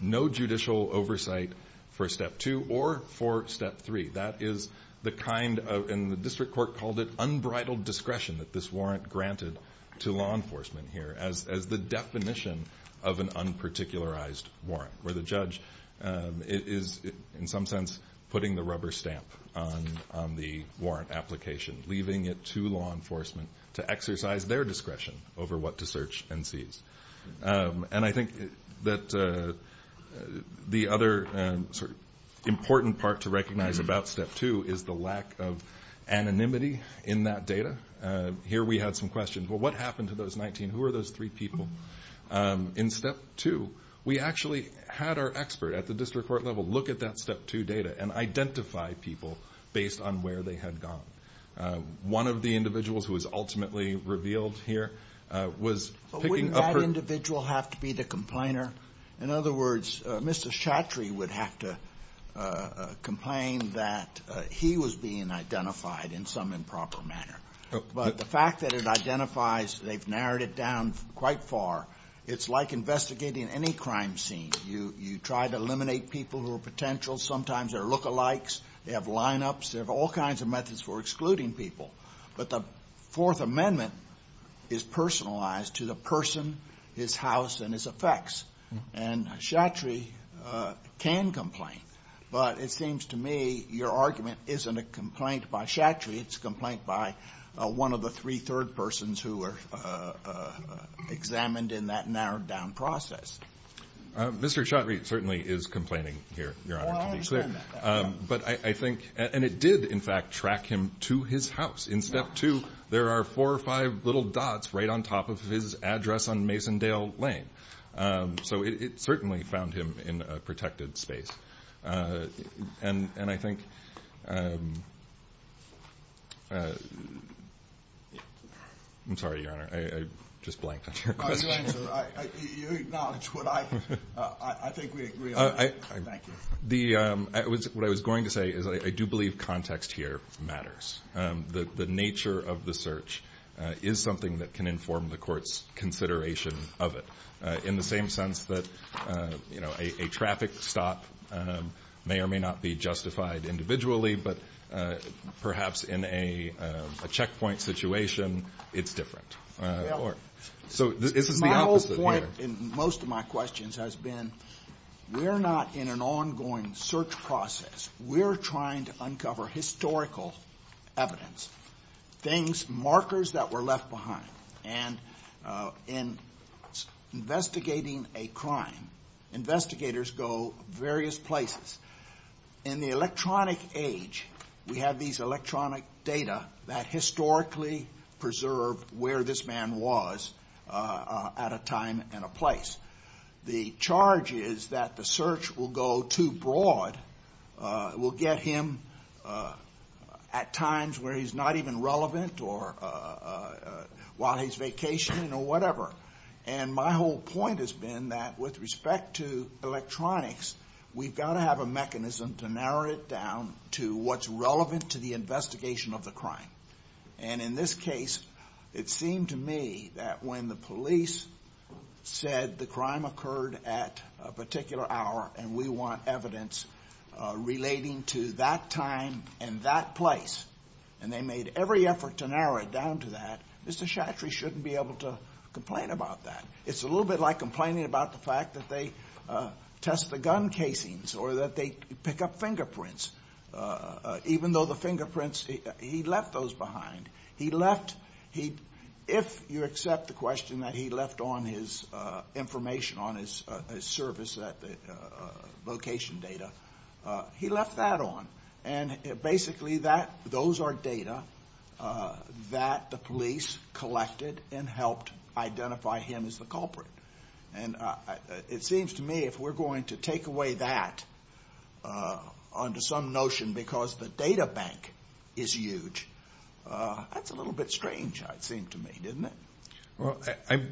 no judicial oversight for Step 2 or for Step 3. That is the kind of—and the district court called it unbridled discretion that this warrant granted to law enforcement here as the definition of an unparticularized warrant, where the judge is, in some sense, putting the rubber stamp on the warrant application, leaving it to law enforcement to exercise their discretion over what to search and seize. And I think that the other important part to recognize about Step 2 is the lack of anonymity in that data. Here we have some questions. Well, what happened to those 19? Who are those three people? In Step 2, we actually had our expert at the district court level look at that Step 2 data and identify people based on where they had gone. One of the individuals who was ultimately revealed here was— But wouldn't that individual have to be the complainer? In other words, Mr. Chattery would have to complain that he was being identified in some improper manner. But the fact that it identifies—they've narrowed it down quite far. It's like investigating any crime scene. You try to eliminate people who are potential. Sometimes they're look-alikes. They have lineups. There are all kinds of methods for excluding people. But the Fourth Amendment is personalized to the person, his house, and his effects. And Chattery can complain. But it seems to me your argument isn't a complaint by Chattery. It's a complaint by one of the three third persons who were examined in that narrowed-down process. Mr. Chattery certainly is complaining here, Your Honor, to be clear. But I think—and it did, in fact, track him to his house. In Step 2, there are four or five little dots right on top of his address on Masondale Lane. So it certainly found him in a protected space. And I think—I'm sorry, Your Honor. I just blanked on your question. You acknowledged what I—I think we agree on that. What I was going to say is I do believe context here matters. The nature of the search is something that can inform the court's consideration of it. In the same sense that, you know, a traffic stop may or may not be justified individually, but perhaps in a checkpoint situation, it's different. So it's the opposite. My whole point in most of my questions has been we're not in an ongoing search process. We're trying to uncover historical evidence, things, markers that were left behind. And in investigating a crime, investigators go various places. In the electronic age, we have these electronic data that historically preserve where this man was at a time and a place. The charge is that the search will go too broad. It will get him at times where he's not even relevant or while he's vacationing or whatever. And my whole point has been that with respect to electronics, we've got to have a mechanism to narrow it down to what's relevant to the investigation of the crime. And in this case, it seemed to me that when the police said the crime occurred at a particular hour and we want evidence relating to that time and that place, and they made every effort to narrow it down to that, Mr. Chattery shouldn't be able to complain about that. It's a little bit like complaining about the fact that they test the gun casings or that they pick up fingerprints, even though the fingerprints, he left those behind. He left, if you accept the question that he left on his information on his service location data, he left that on. And basically those are data that the police collected and helped identify him as the culprit. And it seems to me if we're going to take away that under some notion because the data bank is huge, that's a little bit strange, it seems to me, isn't it? Well, I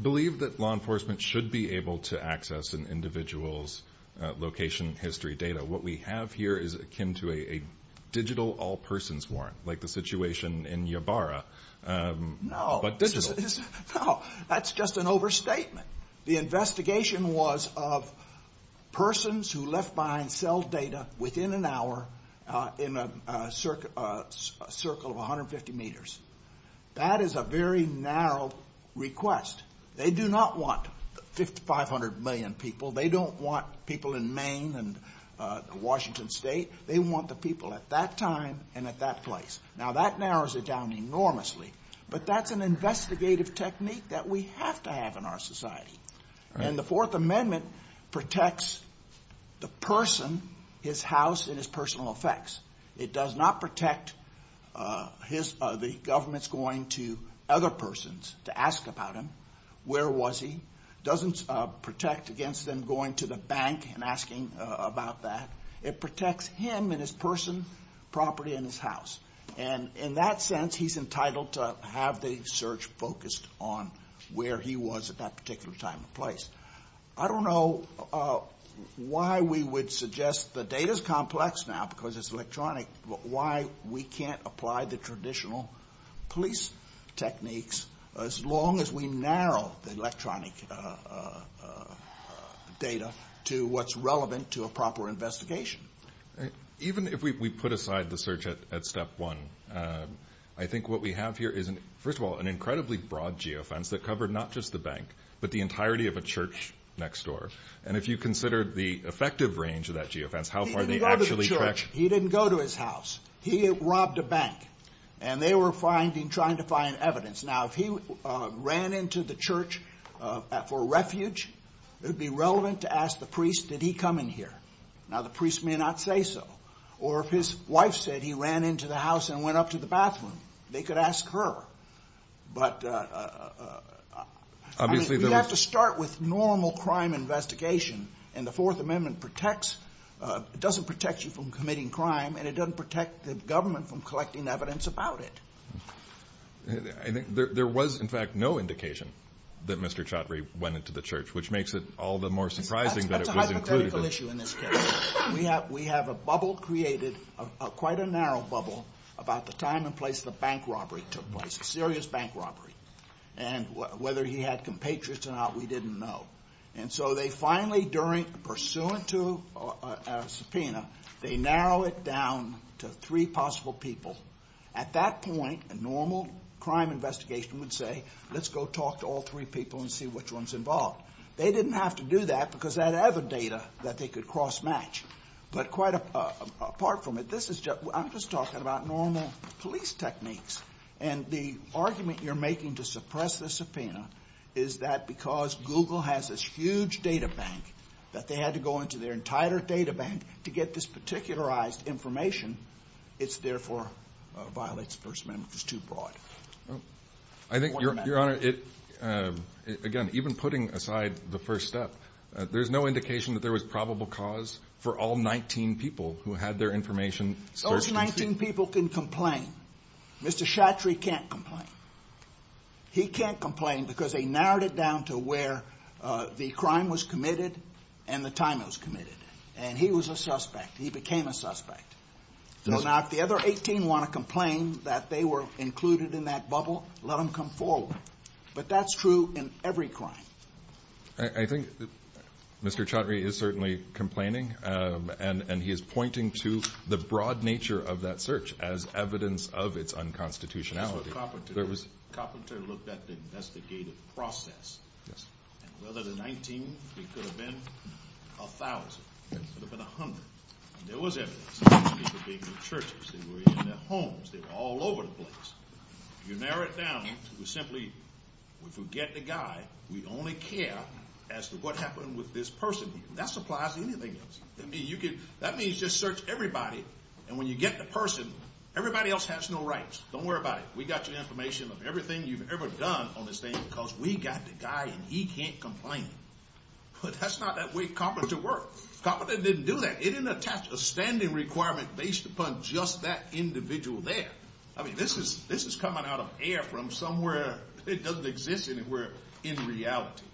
believe that law enforcement should be able to access an individual's location history data. What we have here is akin to a digital all persons warrant, like the situation in Ybarra. No, that's just an overstatement. The investigation was of persons who left behind cell data within an hour in a circle of 150 meters. That is a very narrow request. They do not want 5500 million people. They don't want people in Maine and Washington State. They want the people at that time and at that place. Now that narrows it down enormously, but that's an investigative technique that we have to have in our society. And the Fourth Amendment protects the person, his house, and his personal effects. It does not protect the government's going to other persons to ask about him, where was he. It doesn't protect against them going to the bank and asking about that. It protects him and his person, property, and his house. And in that sense, he's entitled to have the search focused on where he was at that particular time and place. I don't know why we would suggest the data is complex now because it's electronic, but why we can't apply the traditional police techniques as long as we narrow the electronic data to what's relevant to a proper investigation. Even if we put aside the search at step one, I think what we have here is, first of all, an incredibly broad geofence that covered not just the bank, but the entirety of a church next door. And if you consider the effective range of that geofence, how far they actually track- If he didn't go to his house, he robbed a bank, and they were trying to find evidence. Now, if he ran into the church for refuge, it would be relevant to ask the priest, did he come in here? Now, the priest may not say so. Or if his wife said he ran into the house and went up to the bathroom, they could ask her. But you have to start with normal crime investigation, and the Fourth Amendment protects- it doesn't protect you from committing crime, and it doesn't protect the government from collecting evidence about it. There was, in fact, no indication that Mr. Chaudhry went into the church, which makes it all the more surprising that it would include- We have a bubble created, quite a narrow bubble, about the time and place the bank robbery took place. A serious bank robbery. And whether he had compatriots or not, we didn't know. And so they finally, pursuant to a subpoena, they narrow it down to three possible people. At that point, a normal crime investigation would say, let's go talk to all three people and see which one's involved. They didn't have to do that, because they had other data that they could cross-match. But quite apart from it, this is just- I'm just talking about normal police techniques. And the argument you're making to suppress the subpoena is that because Google has this huge data bank, that they had to go into their entire data bank to get this particularized information, it's therefore a violent experiment that's too broad. I think, Your Honor, again, even putting aside the first step, there's no indication that there was probable cause for all 19 people who had their information searched. Those 19 people can complain. Mr. Chaudhry can't complain. He can't complain because they narrowed it down to where the crime was committed and the time it was committed. And he was a suspect. He became a suspect. Now, if the other 18 want to complain that they were included in that bubble, let them come forward. But that's true in every crime. I think Mr. Chaudhry is certainly complaining, and he is pointing to the broad nature of that search as evidence of its unconstitutionality. Coppenter looked at the investigative process. Whether there were 19, there could have been 1,000. There could have been 100. There was evidence. People gave me pictures. They were in their homes. They were all over the place. You narrow it down to simply to get the guy. We only care as to what happened with this person. That applies to anything else. That means just search everybody, and when you get the person, everybody else has no rights. Don't worry about it. We got your information on everything you've ever done on this thing because we got the guy, and he can't complain. But that's not the way Coppenter worked. Coppenter didn't do that. It didn't attach a standing requirement based upon just that individual there. I mean, this is coming out of air from somewhere that doesn't exist anywhere in reality.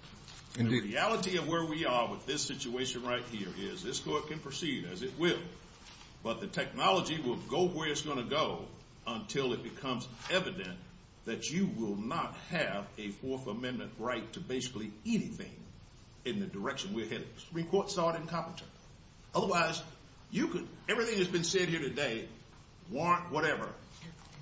The reality of where we are with this situation right here is this court can proceed as it will, but the technology will go where it's going to go until it becomes evident that you will not have a Fourth Amendment right to basically anything in the direction we're headed. The Supreme Court saw it in Coppenter. Otherwise, everything that's been said here today, warrant, whatever,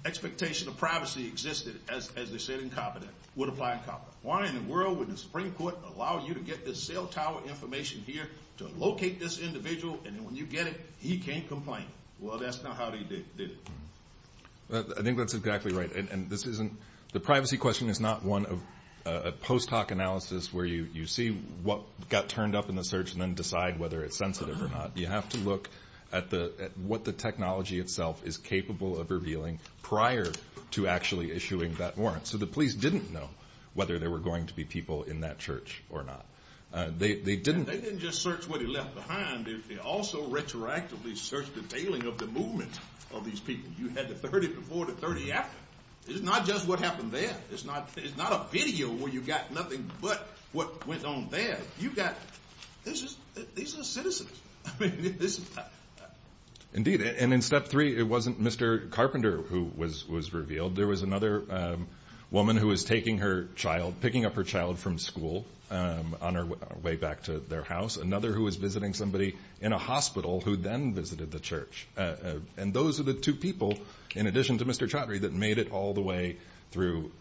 expectation of privacy existed as they said in Coppenter, would apply in Coppenter. Why in the world would the Supreme Court allow you to get this cell tower information here to locate this individual, and when you get it, he can't complain? Well, that's not how he did it. I think that's exactly right, and the privacy question is not one of a post hoc analysis where you see what got turned up in the search and then decide whether it's sensitive or not. You have to look at what the technology itself is capable of revealing prior to actually issuing that warrant, so the police didn't know whether there were going to be people in that church or not. They didn't just search what he left behind. They also retroactively searched the tailing of the movement of these people. You had the 30 before, the 30 after. It's not just what happened then. It's not a video where you've got nothing but what went on then. These are citizens. Indeed, and in step three, it wasn't Mr. Carpenter who was revealed. There was another woman who was picking up her child from school on her way back to their house, another who was visiting somebody in a hospital who then visited the church, and those are the two people, in addition to Mr. Chaudhary, that made it all the way through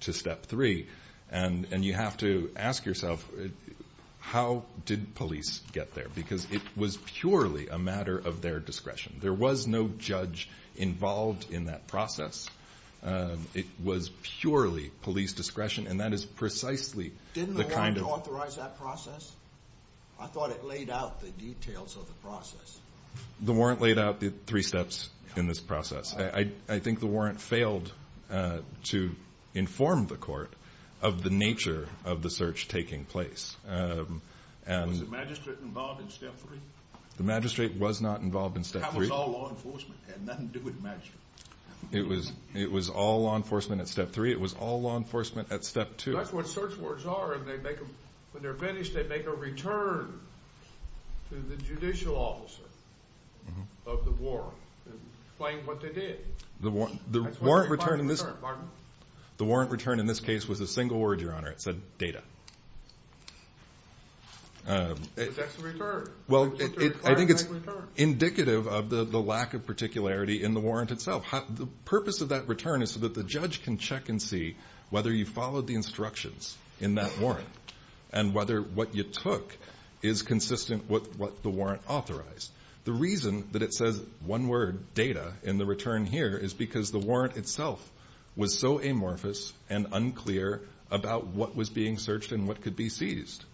to step three, and you have to ask yourself, how did police get there? Because it was purely a matter of their discretion. There was no judge involved in that process. It was purely police discretion, and that is precisely the kind of— Didn't the warrant authorize that process? I thought it laid out the details of the process. The warrant laid out the three steps in this process. I think the warrant failed to inform the court of the nature of the search taking place. Was the magistrate involved in step three? The magistrate was not involved in step three. How was all law enforcement? It had nothing to do with magistrates. It was all law enforcement at step three. It was all law enforcement at step two. That's what search warrants are. When they're finished, they make a return to the judicial officer of the warrant, explaining what they did. The warrant return in this case was a single word, Your Honor. It said, data. They fix the return. Well, I think it's indicative of the lack of particularity in the warrant itself. The purpose of that return is so that the judge can check and see whether you followed the instructions in that warrant and whether what you took is consistent with what the warrant authorized. The reason that it says one word, data, in the return here is because the warrant itself was so amorphous and unclear about what was being searched and what could be seized.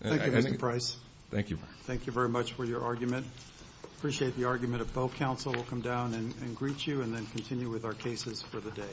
Thank you, Mr. Price. Thank you. Thank you very much for your argument. I appreciate the argument. If both counsel will come down and greet you and then continue with our cases for the day.